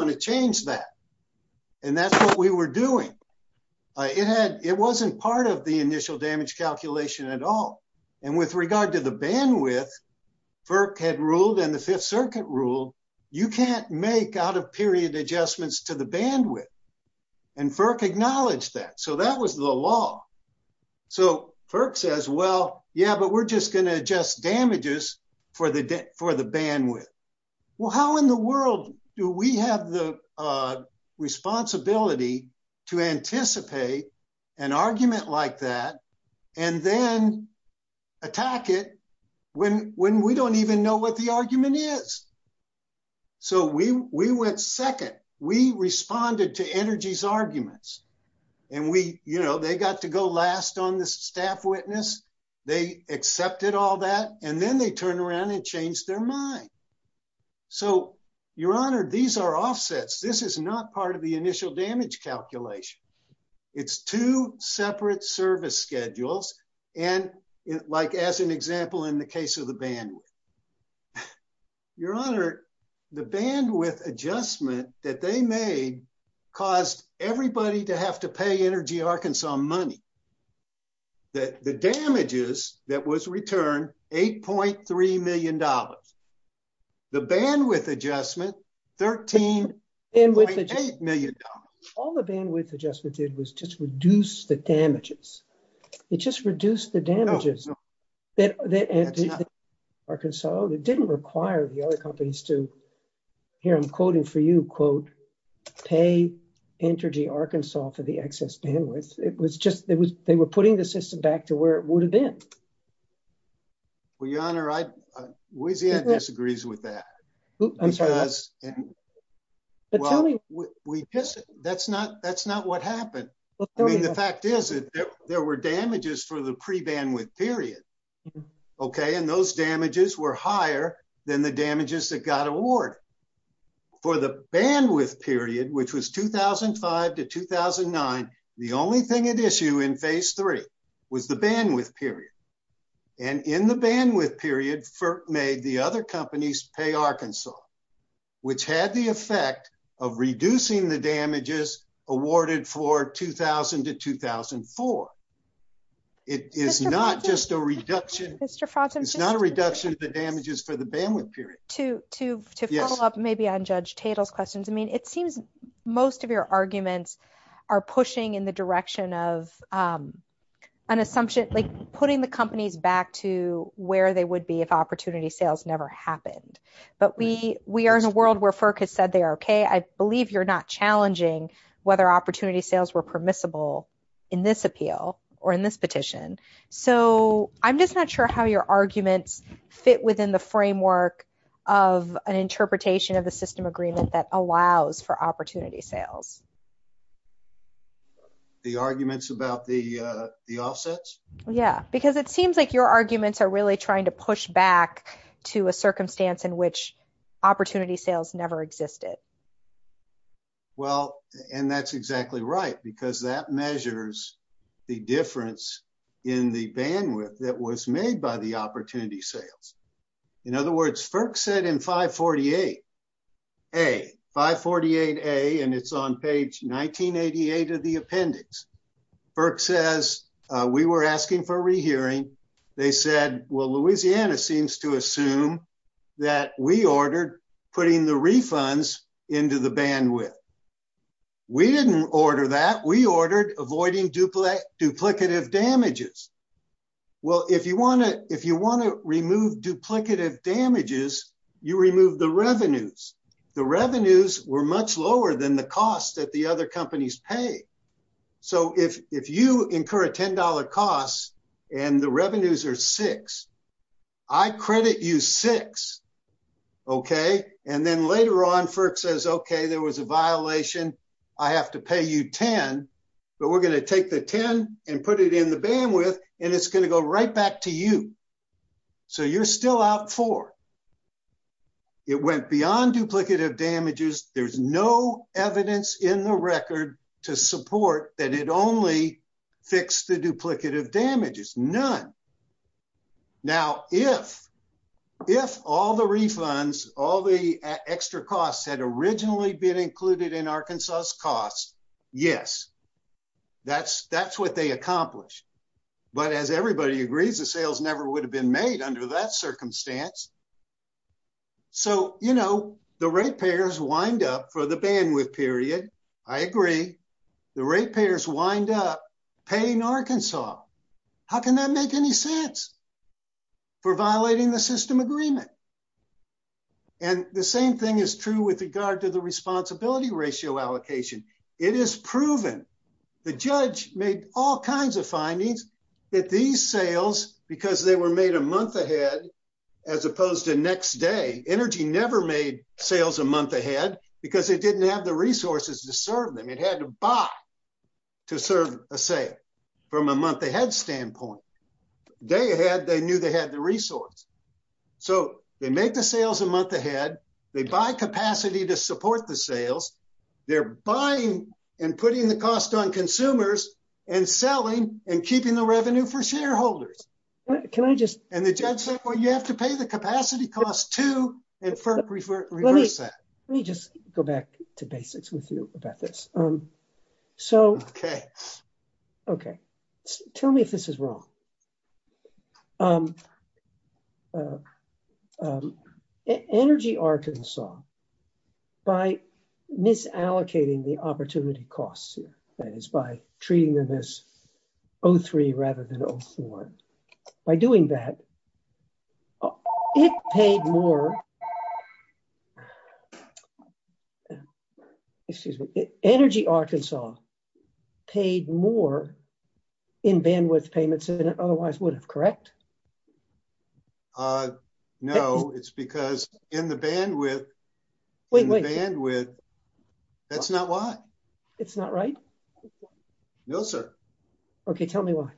to change that. And that's what we were doing. It wasn't part of the initial damage calculation at all. And with regard to the bandwidth, FERC had ruled and the Fifth Circuit ruled you can't make out-of-period adjustments to the bandwidth. And FERC acknowledged that. So that was the law. So FERC says, well, yeah, but we're just going to adjust damages for the bandwidth. Well, how in the world do we have the responsibility to anticipate an argument like that and then attack it when we don't even know what the argument is? So we went second. We responded to Energy's arguments. And we – they got to go last on the staff witness. They accepted all that. And then they turned around and changed their mind. So, Your Honor, these are offsets. This is not part of the initial damage calculation. It's two separate service schedules. And like as an example in the case of the bandwidth. Your Honor, the bandwidth adjustment that they made caused everybody to have to pay Energy Arkansas money. The damages that was returned, $8.3 million. The bandwidth adjustment, $13.8 million. All the bandwidth adjustment did was just reduce the damages. It just reduced the damages. No, no. That's not – Arkansas – it didn't require the other companies to – here, I'm quoting for you, quote, pay Energy Arkansas for the excess bandwidth. It was just – it was – they were putting the system back to where it would have been. Well, Your Honor, I – Louisiana disagrees with that. I'm sorry. Because – well, we – that's not what happened. I mean, the fact is that there were damages for the pre-bandwidth period. Okay? And those damages were higher than the damages that got awarded. For the bandwidth period, which was 2005 to 2009, the only thing at issue in phase three was the bandwidth period. And in the bandwidth period, FERC made the other companies pay Arkansas, which had the effect of reducing the damages awarded for 2000 to 2004. It is not just a reduction – Mr. Fawcett? It's not a reduction of the damages for the bandwidth period. To Fawcett? Maybe on Judge Tatel's questions, I mean, it seems most of your arguments are pushing in the direction of an assumption – like, putting the companies back to where they would be if opportunity sales never happened. But we are in a world where FERC has said they are okay. I believe you're not challenging whether opportunity sales were permissible in this appeal or in this petition. So, I'm just not sure how your arguments fit within the framework of an interpretation of a system agreement that allows for opportunity sales. The arguments about the offsets? Yeah. Because it seems like your arguments are really trying to push back to a circumstance in which opportunity sales never existed. Well, and that's exactly right, because that measures the difference in the bandwidth that was made by the opportunity sales. In other words, FERC said in 548A – 548A, and it's on page 1988 of the appendix – FERC says, we were asking for rehearing. They said, well, Louisiana seems to assume that we ordered putting the refunds into the bandwidth. We didn't order that. We ordered avoiding duplicative damages. Well, if you want to remove duplicative damages, you remove the revenues. The revenues were much lower than the cost that the other companies pay. So, if you incur a $10 cost and the revenues are 6, I credit you 6, okay? And then later on, FERC says, okay, there was a violation. I have to pay you 10, but we're going to take the 10 and put it in the bandwidth, and it's going to go right back to you. So, you're still out four. It went beyond duplicative damages. There's no evidence in the record to support that it only fixed the duplicative damages. None. Now, if all the refunds, all the extra costs had originally been included in Arkansas's costs, yes, that's what they accomplished. But as everybody agrees, the sales never would have been made under that circumstance. So, you know, the ratepayers wind up for the bandwidth period. I agree. The ratepayers wind up paying Arkansas. How can that make any sense for violating the system agreement? And the same thing is true with regard to the responsibility ratio allocation. It is proven. The judge made all kinds of findings that these sales, because they were made a month ahead as opposed to next day, energy never made sales a month ahead because it didn't have the resources to serve them. It had to buy to serve a sale from a month ahead standpoint. Day ahead, they knew they had the resource. So, they make the sales a month ahead. They buy capacity to support the sales. They're buying and putting the cost on consumers and selling and keeping the revenue for shareholders. Can I just... And the judge said, well, you have to pay the capacity cost too. Let me just go back to basics with you about this. So... Okay. Okay. Tell me if this is wrong. Energy Arkansas, by misallocating the opportunity costs, that is by treating them as O3 rather than O4, by doing that, it paid more... Excuse me. Energy Arkansas paid more in bandwidth payments than it otherwise would have, correct? Correct. No, it's because in the bandwidth... Wait, wait. ...in the bandwidth, that's not why. It's not right? No, sir. Okay. Tell me why.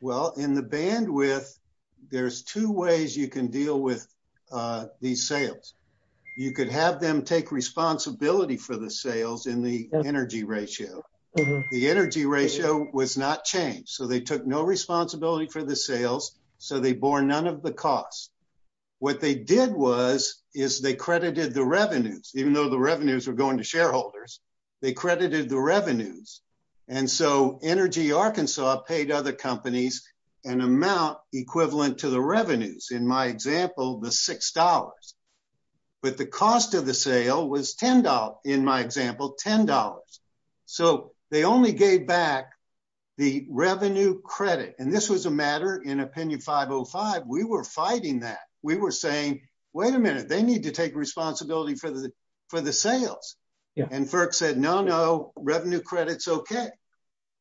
Well, in the bandwidth, there's two ways you can deal with these sales. You could have them take responsibility for the sales in the energy ratio. The energy ratio was not changed. So, they took no responsibility for the sales. So, they bore none of the costs. What they did was, is they credited the revenues, even though the revenues are going to shareholders, they credited the revenues. And so, Energy Arkansas paid other companies an amount equivalent to the revenues, in my example, the $6. But the cost of the sale was $10, in my example, $10. So, they only gave back the revenue credit. And this was a matter in Opinion 505, we were fighting that. We were saying, wait a minute, they need to take responsibility for the sales. And FERC said, no, no, revenue credit's okay.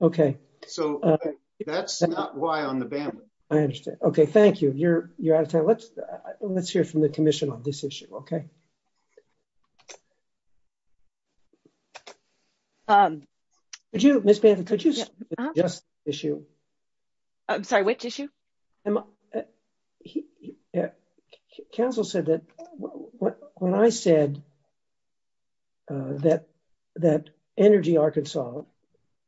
Okay. So, that's not why on the bandwidth. I understand. Okay, thank you. You're out of time. Let's hear from the commission on this issue, okay? Ms. Bannon, could you speak to this issue? I'm sorry, which issue? Council said that, when I said that Energy Arkansas,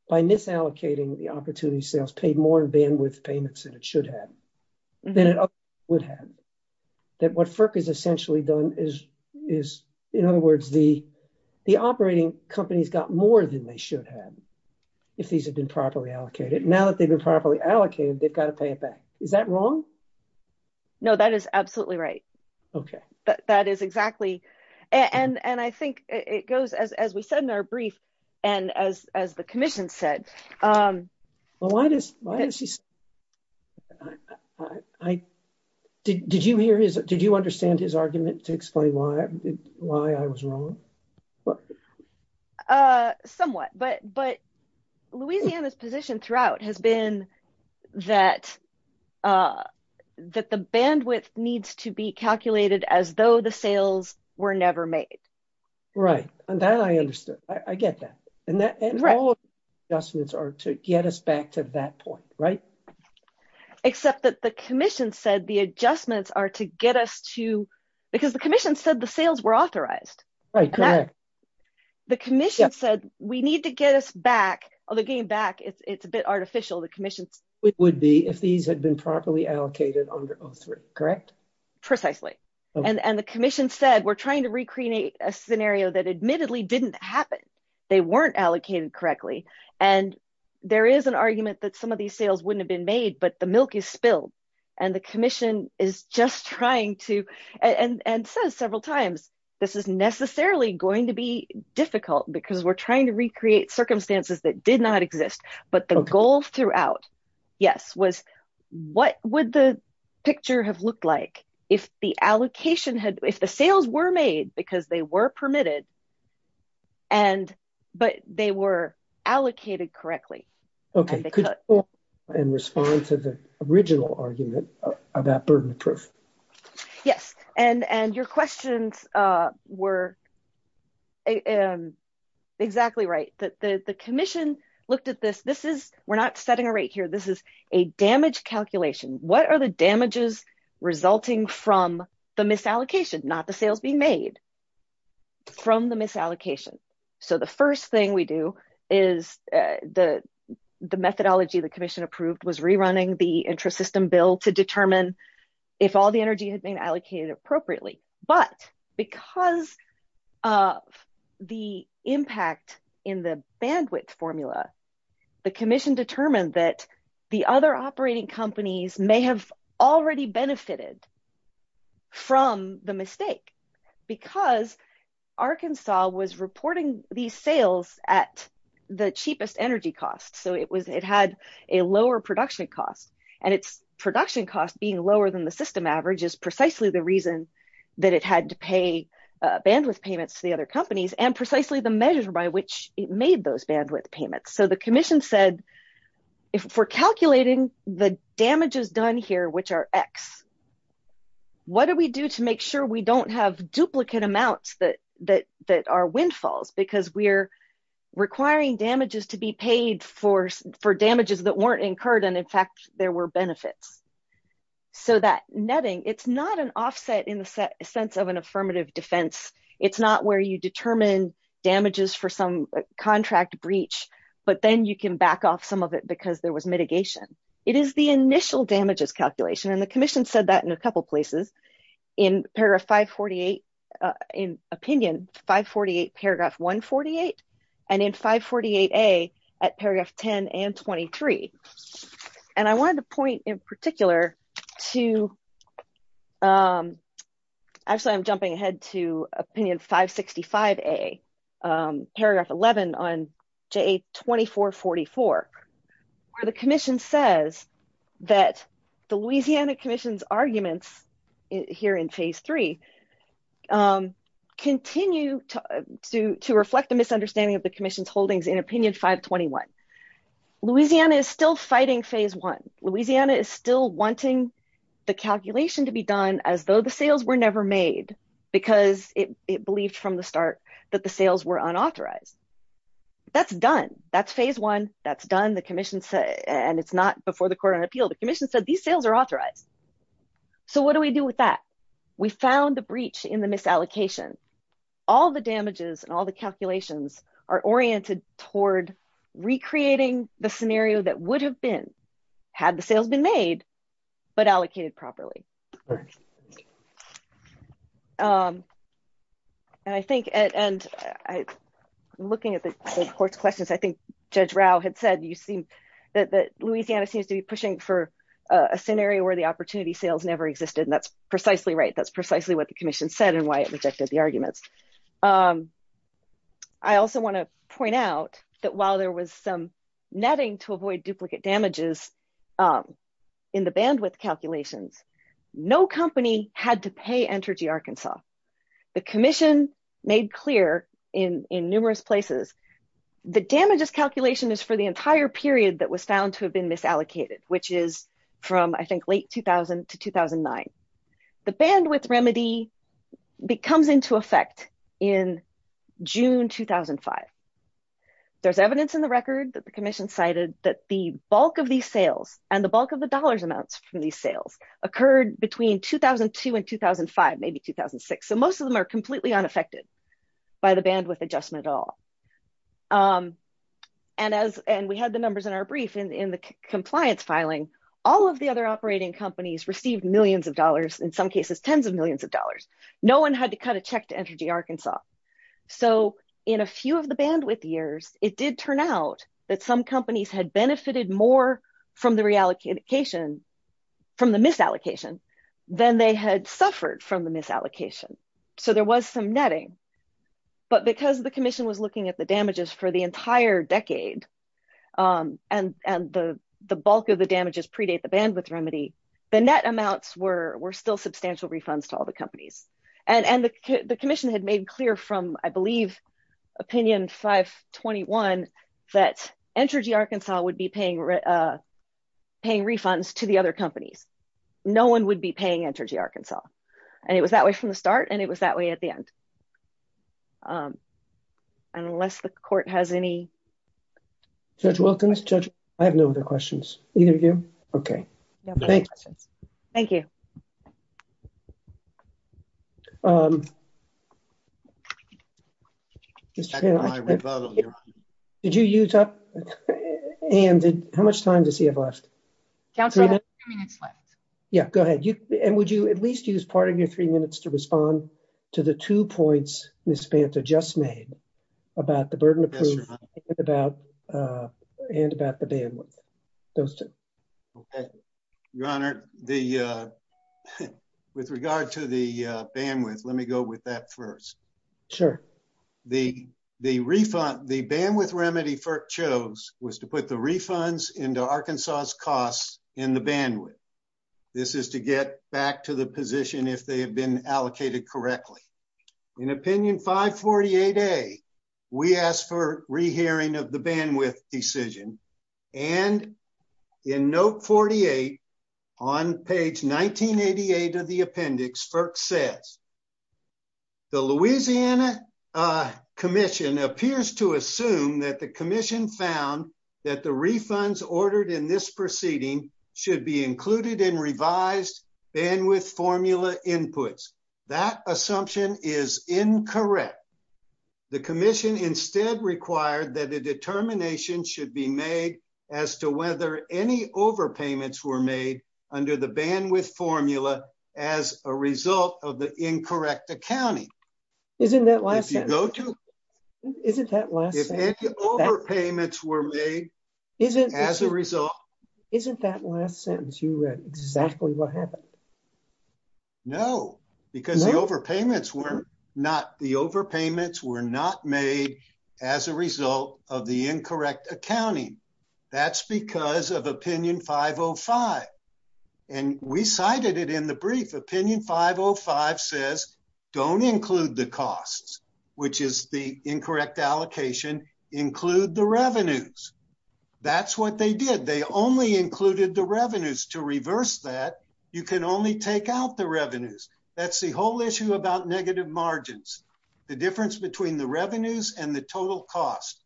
by NIF allocating the opportunity sales, paid more in bandwidth payments than it should have, than it would have, that what FERC has essentially done is, in other words, the operating companies got more than they should have, if these had been properly allocated. Now that they've been properly allocated, they've got to pay it back. Is that wrong? No, that is absolutely right. Okay. That is exactly... And I think it goes, as we said in our brief, and as the commission said... Why is he... Did you understand his argument to explain why I was wrong? Somewhat. But Louisiana's position throughout has been that the bandwidth needs to be calculated as though the sales were never made. Right. And that I understood. I get that. And all adjustments are to get us back to that point, right? Except that the commission said the adjustments are to get us to... Because the commission said the sales were authorized. Right, correct. The commission said, we need to get us back... Although getting back, it's a bit artificial, the commission... It would be, if these had been properly allocated under O3, correct? Precisely. And the commission said, we're trying to recreate a scenario that admittedly didn't happen. They weren't allocated correctly. And there is an argument that some of these sales wouldn't have been made, but the milk is spilled. And the commission is just trying to... And says several times, this is necessarily going to be difficult because we're trying to recreate circumstances that did not exist. But the goals throughout, yes, was what would the picture have looked like if the allocation had... If the sales were made because they were permitted, but they were allocated correctly? Okay. In response to the original argument of that burden of proof. Yes. And your questions were exactly right. The commission looked at this. We're not setting a damage calculation. What are the damages resulting from the misallocation? Not the sales being made from the misallocation. So the first thing we do is the methodology the commission approved was rerunning the interest system bill to determine if all the energy had been allocated appropriately. But because of the impact in the bandwidth formula, the commission determined that the other operating companies may have already benefited from the mistake because Arkansas was reporting these sales at the cheapest energy costs. So it had a lower production cost and its production cost being lower than the system average is that it had to pay bandwidth payments to the other companies and precisely the measure by which it made those bandwidth payments. So the commission said, if we're calculating the damages done here, which are X, what do we do to make sure we don't have duplicate amounts that are windfalls? Because we're requiring damages to be paid for damages that weren't offset in the sense of an affirmative defense. It's not where you determine damages for some contract breach, but then you can back off some of it because there was mitigation. It is the initial damages calculation. And the commission said that in a couple of places in paragraph 548 in opinion, 548 paragraph 148 and in 548A at paragraph 10 and 23. And I wanted to point in particular to, actually I'm jumping ahead to opinion 565A paragraph 11 on JA 2444, where the commission says that the Louisiana commission's arguments here in phase three continue to reflect the misunderstanding of the commission's holdings in opinion 521. Louisiana is still fighting phase one. Louisiana is still wanting the calculation to be done as though the sales were never made because it believed from the start that the sales were unauthorized. That's done. That's phase one. That's done. The commission said, and it's not before the court on appeal, the commission said these sales are authorized. So what do we do with that? We found the breach in the misallocation. All the damages and all the calculations are oriented toward recreating the scenario that would have been, had the sales been made, but allocated properly. And I think, and looking at the court's questions, I think Judge Rao had said you see that Louisiana seems to be pushing for a scenario where the opportunity sales never existed. And that's precisely right. That's precisely what the commission said and why it wants to point out that while there was some netting to avoid duplicate damages in the bandwidth calculations, no company had to pay Entergy Arkansas. The commission made clear in numerous places, the damages calculation is for the entire period that was found to have been misallocated, which is from I think late 2000 to 2009. The bandwidth remedy comes into effect in June, 2005. There's evidence in the record that the commission cited that the bulk of these sales and the bulk of the dollars amounts from these sales occurred between 2002 and 2005, maybe 2006. So most of them are completely unaffected by the bandwidth adjustment at all. And as, and we had the numbers in our brief in the compliance filing, all of the other no one had to cut a check to Entergy Arkansas. So in a few of the bandwidth years, it did turn out that some companies had benefited more from the reallocation from the misallocation than they had suffered from the misallocation. So there was some netting, but because the commission was looking at the damages for the entire decade and the bulk of the damages predate the bandwidth remedy, the net amounts were still substantial refunds to all the companies. And the commission had made clear from I believe opinion 521 that Entergy Arkansas would be paying refunds to the other companies. No one would be paying Entergy Arkansas. And it was that way from the start and it was that way at the end. Unless the court has any. Judge Wilkins, I have no other questions. Either of you. Okay. Thank you. Did you use up and how much time does he have left? Yeah, go ahead. And would you at least use part of your three minutes to respond to the two points Ms. Panta just made about the burden of proof and about the bandwidth? Your Honor, with regard to the bandwidth, let me go with that first. Sure. The bandwidth remedy FERC chose was to put the refunds into Arkansas's costs and the bandwidth. This is to get back to the position if they have been allocated correctly. In opinion 548A, we asked for rehearing of the bandwidth decision. And in note 48, on page 1988 of the appendix, FERC says, the Louisiana commission appears to assume that the commission found that the refunds ordered in this proceeding should be included in revised bandwidth formula inputs. That assumption is incorrect. The commission instead required that the determination should be made as to whether any overpayments were made under the overpayments were made as a result. Isn't that last sentence you read exactly what happened? No, because the overpayments were not the overpayments were not made as a result of the incorrect accounting. That's because of opinion 505. And we cited it in the brief opinion 505 says, don't include the costs, which is the incorrect allocation, include the revenues. That's what they did. They only included the revenues. To reverse that, you can only take out the revenues. That's the whole issue about negative margins. The difference between the revenues and the total cost.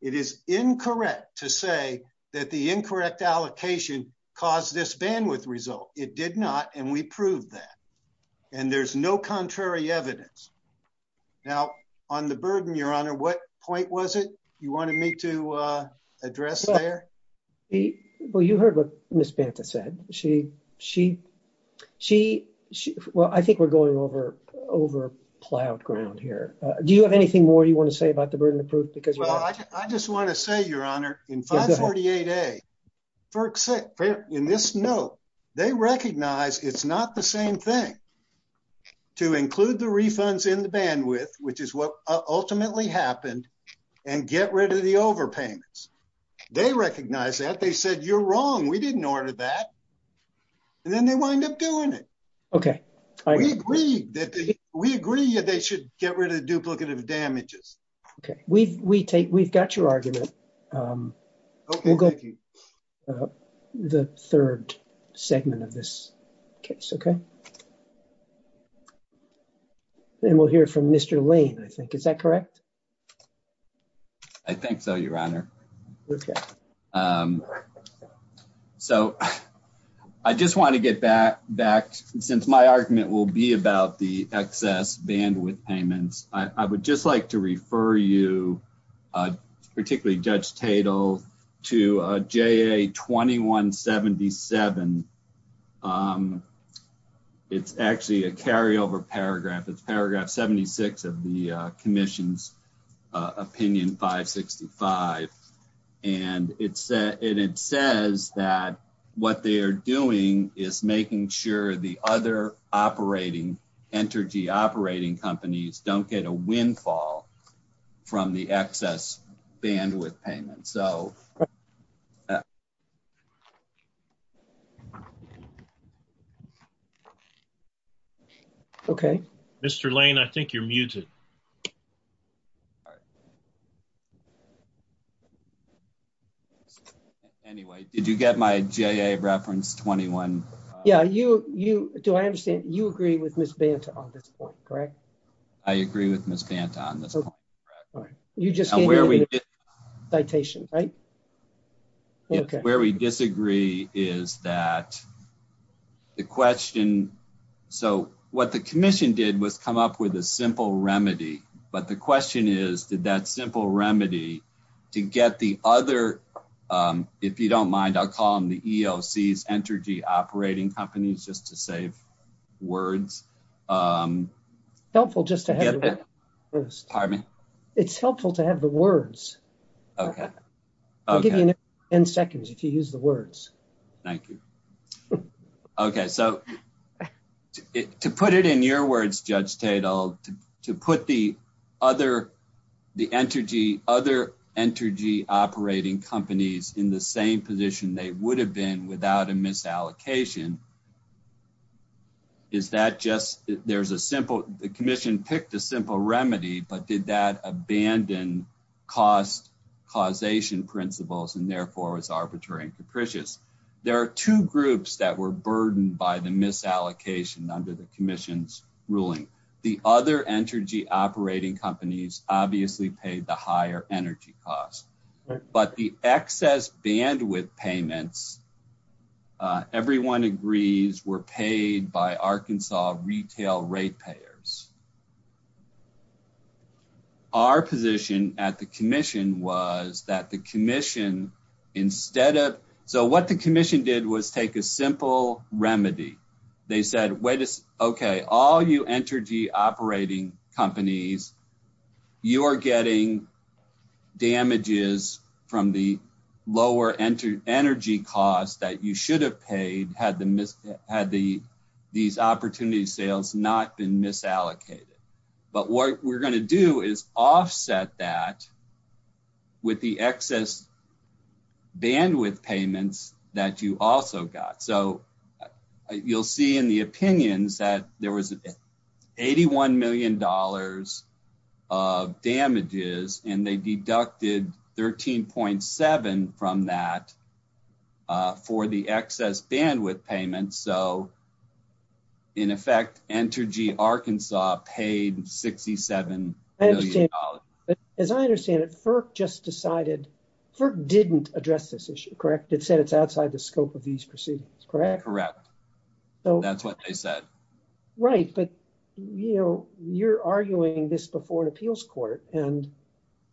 It is incorrect to say that the incorrect allocation caused this result. It did not. And we proved that. And there's no contrary evidence. Now, on the burden, your honor, what point was it you wanted me to address there? Well, you heard what Ms. Banta said. She, she, she, well, I think we're going over, over plowed ground here. Do you have anything more you want to say about the burden of proof? I just want to say, your honor, in 548A, in this note, they recognize it's not the same thing to include the refunds in the bandwidth, which is what ultimately happened and get rid of the overpayments. They recognize that they said, you're wrong. We didn't order that. And then they wind up doing it. Okay. I agree that we agree that they should get rid of damages. Okay. We, we take, we've got your argument. The third segment of this case. Okay. Then we'll hear from Mr. Lane, I think. Is that correct? I think so, your honor. Okay. So I just want to get that back since my argument will be about the bandwidth payments. I would just like to refer you, particularly Judge Tatel, to JA 2177. It's actually a carryover paragraph. It's paragraph 76 of the commission's opinion 565. And it says that what they are doing is making sure the other operating, entity operating companies don't get a windfall from the excess bandwidth payments. So. Okay. Mr. Lane, I think you're muted. Anyway, did you get my JA reference 21? Yeah. You, you, do I understand you agree with Ms. Banta on this point, correct? I agree with Ms. Banta on this point. You just gave me the citation, right? Okay. Where we disagree is that the question. So what the commission did was come up with a simple remedy, but the question is, did that remedy to get the other, if you don't mind, I'll call them the ELCs, energy operating companies, just to save words. It's helpful to have the words. I'll give you 10 seconds if you use the words. Thank you. Okay. So to put it in your words, Judge Tatel, to put the other, the energy, other energy operating companies in the same position they would have been without a misallocation, is that just, there's a simple, the commission picked a simple remedy, but did that abandon cost causation principles and therefore it's arbitrary and capricious. There are two groups that were burdened by the misallocation under the commission's ruling. The other energy operating companies obviously paid the higher energy costs, but the excess bandwidth payments, everyone agrees, were paid by Arkansas retail rate payers. Our position at the commission was that the commission, instead of, so what the commission did was take a simple remedy. They said, okay, all you energy operating companies, you're getting damages from the lower energy costs that you should have paid had the, had the, these opportunity sales not been misallocated. But what we're going to do is so you'll see in the opinions that there was $81 million of damages and they deducted 13.7 from that for the excess bandwidth payments. So in effect, Entergy Arkansas paid $67 million. As I understand it, FERC just decided, FERC didn't address this issue, correct? It said it's outside the scope of these proceedings, correct? Correct. That's what they said. Right. But you know, you're arguing this before an appeals court and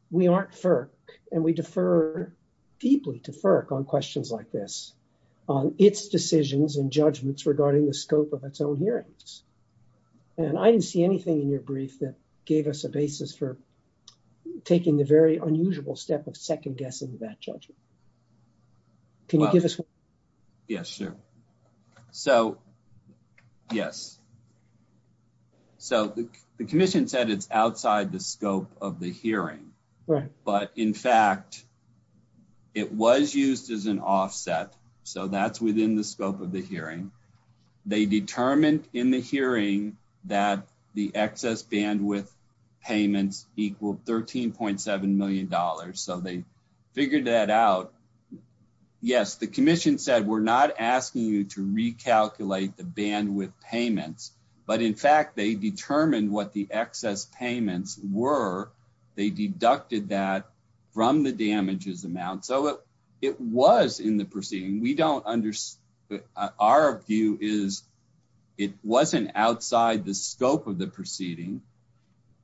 we aren't FERC and we defer deeply to FERC on questions like this, on its decisions and judgments regarding the scope of its own hearings. And I didn't see anything in your brief that gave us a basis for taking the very unusual step of second guessing that judgment. Can you give us one? Yes, sure. So, yes. So the commission said it's outside the scope of the hearing. Right. But in fact, it was used as an offset. So that's within the scope of the hearing. They determined in the hearing that the excess bandwidth payments equaled $13.7 million. So they figured that out. Yes, the commission said we're not asking you to recalculate the bandwidth payments. But in fact, they determined what the excess payments were. They deducted that from the damages amount. So it was in the proceeding. We don't understand. Our view is it wasn't outside the scope of the proceeding.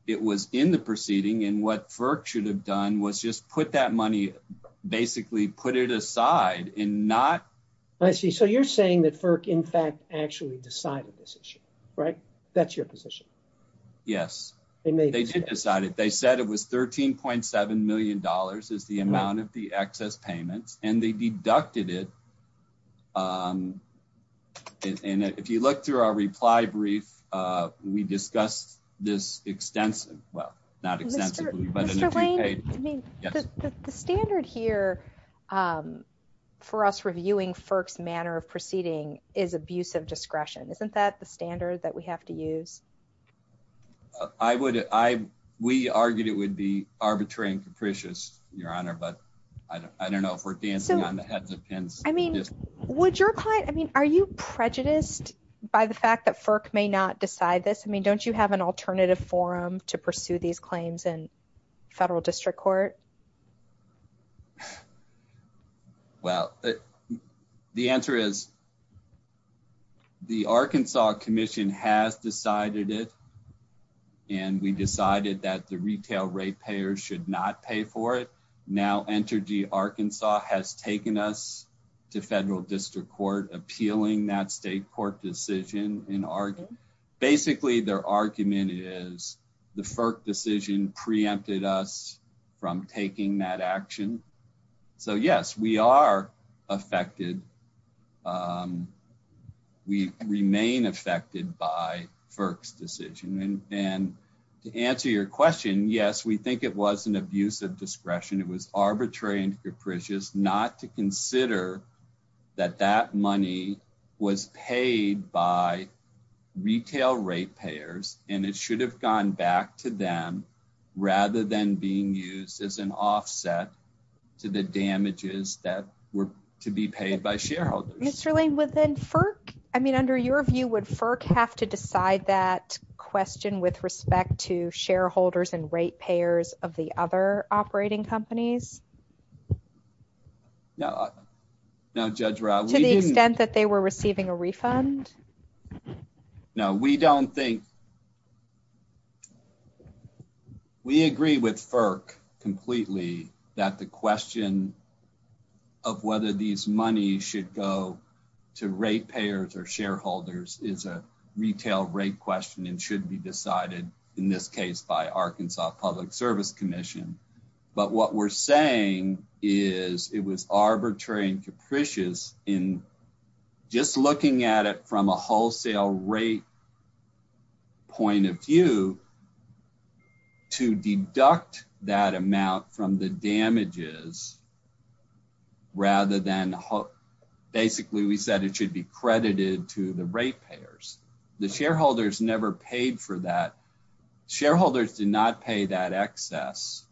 It was in the proceeding. And what FERC should have done was just put that money, basically put it aside and not. I see. So you're saying that FERC, in fact, actually decided this issue, right? That's your position. Yes. And they did decide it. They said it was $13.7 million is the amount of the excess payments. And they deducted it. And if you look through our reply brief, we discussed this extensively. Well, not extensively. Mr. Lane, the standard here for us reviewing FERC's manner of proceeding is abuse of discretion. Isn't that the standard that we have to use? I would. We argued it would be arbitrary and capricious, Your Honor. But I don't know if we're dancing on the heads of pins. I mean, would your client, I mean, are you prejudiced by the fact that FERC may not decide this? I mean, don't you have an alternative forum to pursue these claims in federal district court? Well, the answer is the Arkansas Commission has decided it. And we decided that the retail rate payers should not pay for it. Now, Entergy Arkansas has taken us to federal district court appealing that state court decision in Argonne. Basically, their argument is the FERC decision preempted us from taking that action. So yes, we are affected. We remain affected by FERC's decision. And to answer your question, yes, we think it was an abuse of discretion. It was arbitrary and capricious not to consider that that money was paid by retail rate payers. And it should have gone back to them rather than being used as an offset to the damages that were to be paid by shareholders. Mr. Lane, would then FERC, I mean, under your view, would FERC have to decide that question with respect to shareholders and rate payers of the other operating companies? No. No, Judge Rao. To the extent that they were receiving a refund? No. We don't think... We agree with FERC completely that the question of whether these money should go to rate payers or shareholders is a retail rate question and should be decided in this case by Arkansas Public Service Commission. But what we're saying is it was arbitrary and capricious in just looking at from a wholesale rate point of view to deduct that amount from the damages rather than... Basically, we said it should be credited to the rate payers. The shareholders never paid for that. Shareholders did not pay that excess.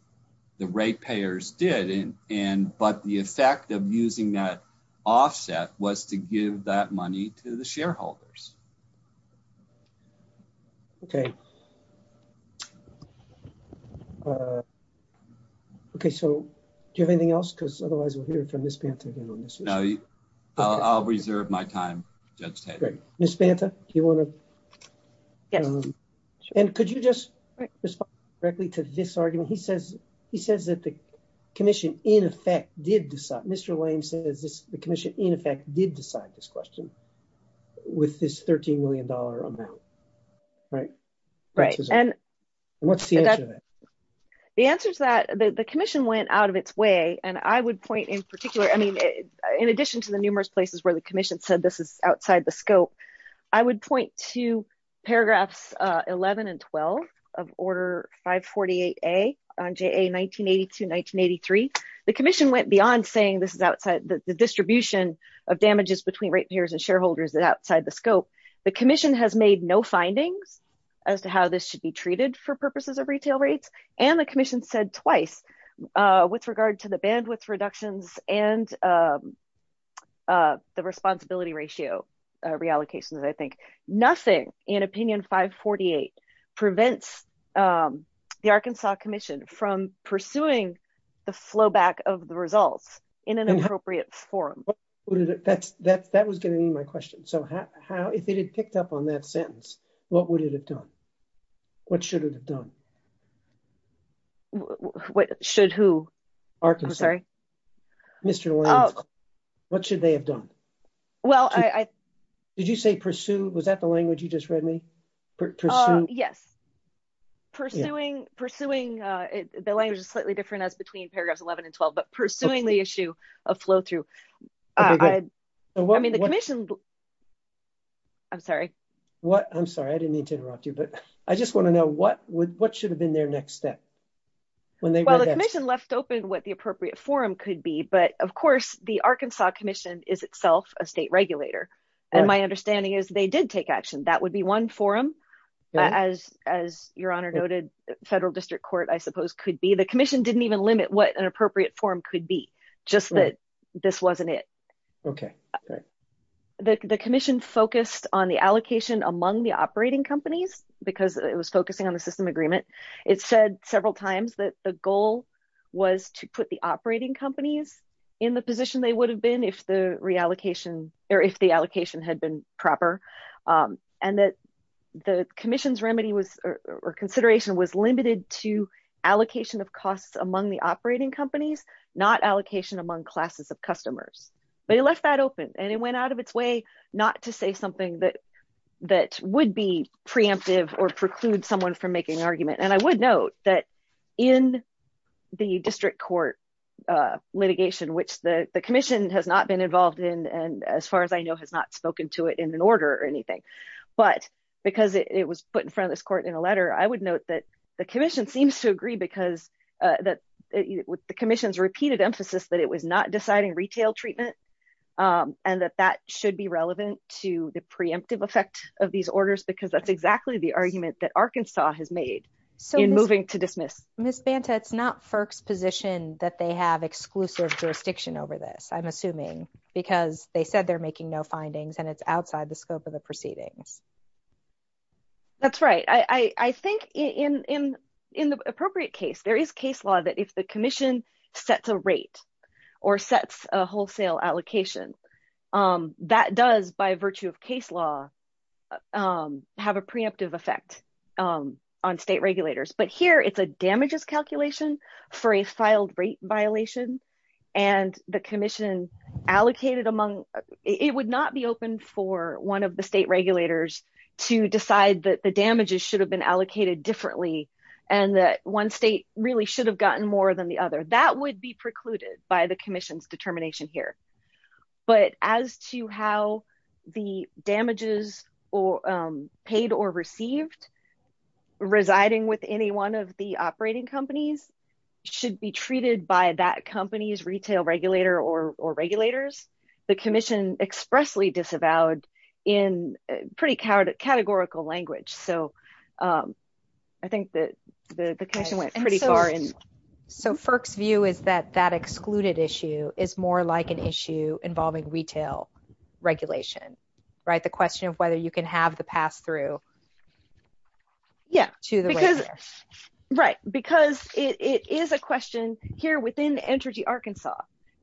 The rate payers did. But the effect of using that offset was to give that money to the shareholders. Okay. Okay. So, do you have anything else? Because otherwise, we'll hear from Ms. Banta. I'll reserve my time. Ms. Banta, do you want to... And could you just respond directly to this argument? He says that the commission, in effect, did decide... Mr. Lane says the commission, in effect, did decide this question with this $13 million amount. Right? Right. And what's the answer to that? The answer is that the commission went out of its way. And I would point in particular... I mean, in addition to the numerous places where the commission said this is outside the scope, I would point to paragraphs 11 and 12 of Order 548A on JA 1982-1983. The commission went beyond saying this is outside... The distribution of damages between rate payers and shareholders is outside the scope. The commission has made no findings as to how this should be treated for purposes of retail rates. And the commission said twice with regard to the bandwidth reductions and the responsibility ratio reallocations, I think. Nothing in Opinion 548 prevents the Arkansas Commission from pursuing the flowback of the results in an appropriate form. That was getting to my question. So, if it had picked up on that sentence, what would it have done? What should it have done? Should who? Arkansas. I'm sorry. Mr. Lane, what should they have done? Well, I... Did you say pursue? Was that the language you just read me? Yes. Pursuing... The language is slightly different as between paragraphs 11 and 12, but pursuing the issue of flow through. I mean, the commission... I'm sorry. I'm sorry. I didn't mean to interrupt you, but I just want to know what should have been their next step? Well, the commission left open what the appropriate forum could be, but of course, the Arkansas Commission is itself a state regulator. And my understanding is they did take action. That would be one forum, as your honor noted, federal district court, I suppose, could be. The commission didn't even limit what an appropriate forum could be, just that this wasn't it. Okay. The commission focused on the allocation among the operating companies because it was focusing on the system agreement. It said several times that the goal was to put the operating companies in the position they would have been if the reallocation or if the allocation had been proper. And that the commission's remedy or consideration was limited to allocation of costs among the operating companies, not allocation among classes of customers. They left that open and it went out of its way not to say something that would be preemptive or preclude someone from making an argument. And I would note that in the district court litigation, which the commission has not been involved in, and as far as I know, has not spoken to it in an order or anything, but because it was put in front of this court in a letter, I would note that the commission seems to agree because the commission's repeated emphasis that it was not deciding retail treatment and that that should be relevant to the preemptive effect of these orders because that's exactly the argument that Arkansas has made in moving to dismiss. Ms. Banta, it's not FERC's position that they have exclusive jurisdiction over this, I'm assuming, because they said they're making no findings and it's outside the scope of the proceeding. That's right. I think in the appropriate case, there is case law that if the commission sets a rate or sets a wholesale allocation, that does, by virtue of case law, have a preemptive effect on state regulators. But here, it's a damages calculation for a filed rate violation and the commission allocated among, it would not be open for one of the state regulators to decide that the damages should have been allocated differently and that one state really should have gotten more than the other. That would be precluded by the commission's determination here. But as to how the damages paid or received residing with any one of the operating companies should be treated by that company's retail regulator or regulators, the commission expressly disavowed in pretty categorical language. So, I think that the commission went pretty far. So, FERC's view is that that excluded issue is more like an issue involving retail regulation, right? The question of whether you can have the pass-through to the regulator. Yeah. Right. Because it is a question here within Entergy Arkansas.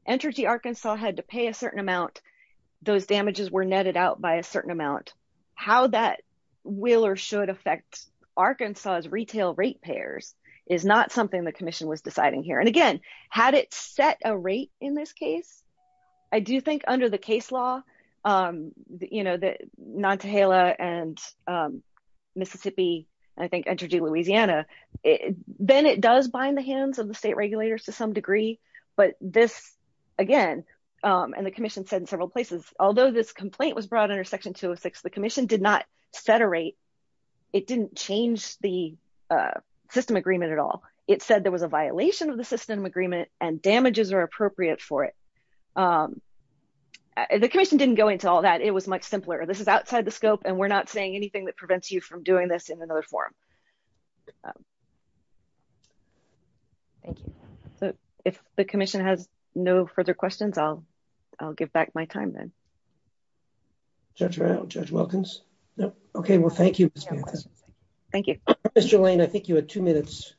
Entergy Arkansas had to pay a certain amount. Those damages were netted out by a certain amount. How that will or should affect Arkansas's retail rate payers is not something the commission was deciding here. And again, had it set a rate in this case, I do think under the case law, you know, that Nantahala and Mississippi and I think Entergy Louisiana, then it does bind the hands of the state regulators to some degree. But this, again, and the commission said in Section 206, the commission did not set a rate. It didn't change the system agreement at all. It said there was a violation of the system agreement and damages are appropriate for it. The commission didn't go into all that. It was much simpler. This is outside the scope, and we're not saying anything that prevents you from doing this in another form. Thank you. If the commission has no further questions, I'll give back my time then. Judge Wilkins. Okay. Well, thank you. Thank you. Ms. Jolaine, I think you had two minutes.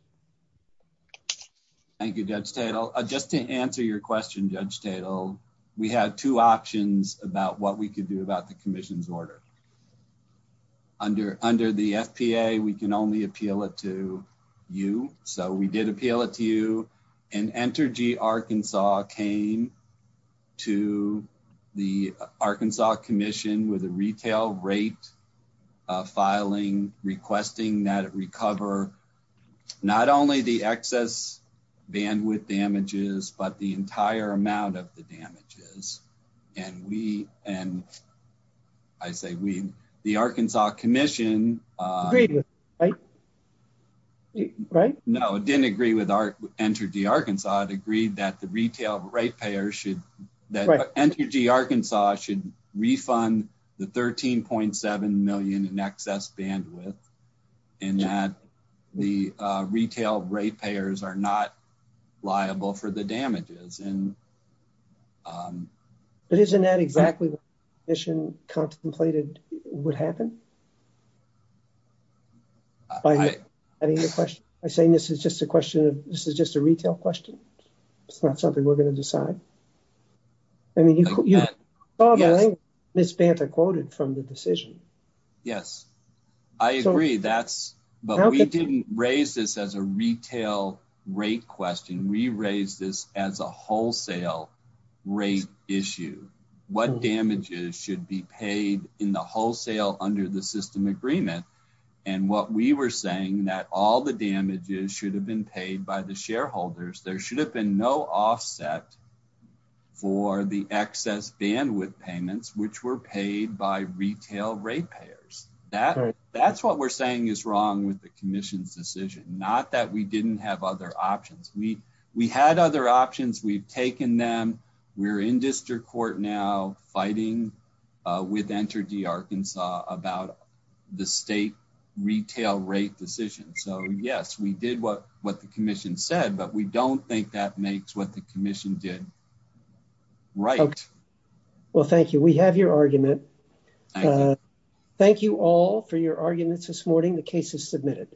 Thank you, Judge Stadel. Just to answer your question, Judge Stadel, we had two options about what we could do about the commission's order. Under the FPA, we can only appeal it to you. So we did appeal it to you. And Entergy Arkansas came to the Arkansas Commission with a retail rate filing requesting that it recover not only the excess bandwidth damages, but the entire amount of the damages. And we, and I say we, the Arkansas Commission. Agreed, right? Right? No, it didn't agree with Entergy Arkansas. It agreed that the retail rate payers should, that Entergy Arkansas should refund the $13.7 million in excess bandwidth, and that the retail rate payers are not liable for the damages. But isn't that exactly what the commission contemplated would happen? I think the question, I say this is just a question, this is just a retail question. It's not something we're going to decide. I mean, I think Ms. Bamford quoted from the decision. Yes, I agree. That's, but we didn't raise this as a retail rate question. We raised this as a and what we were saying that all the damages should have been paid by the shareholders. There should have been no offset for the excess bandwidth payments, which were paid by retail rate payers. That's what we're saying is wrong with the commission's decision. Not that we didn't have other options. We had other options. We've taken them. We're in district court now fighting with Entergy Arkansas about the state retail rate decision. So yes, we did what the commission said, but we don't think that makes what the commission did right. Well, thank you. We have your argument. Thank you all for your arguments this morning. The case is submitted.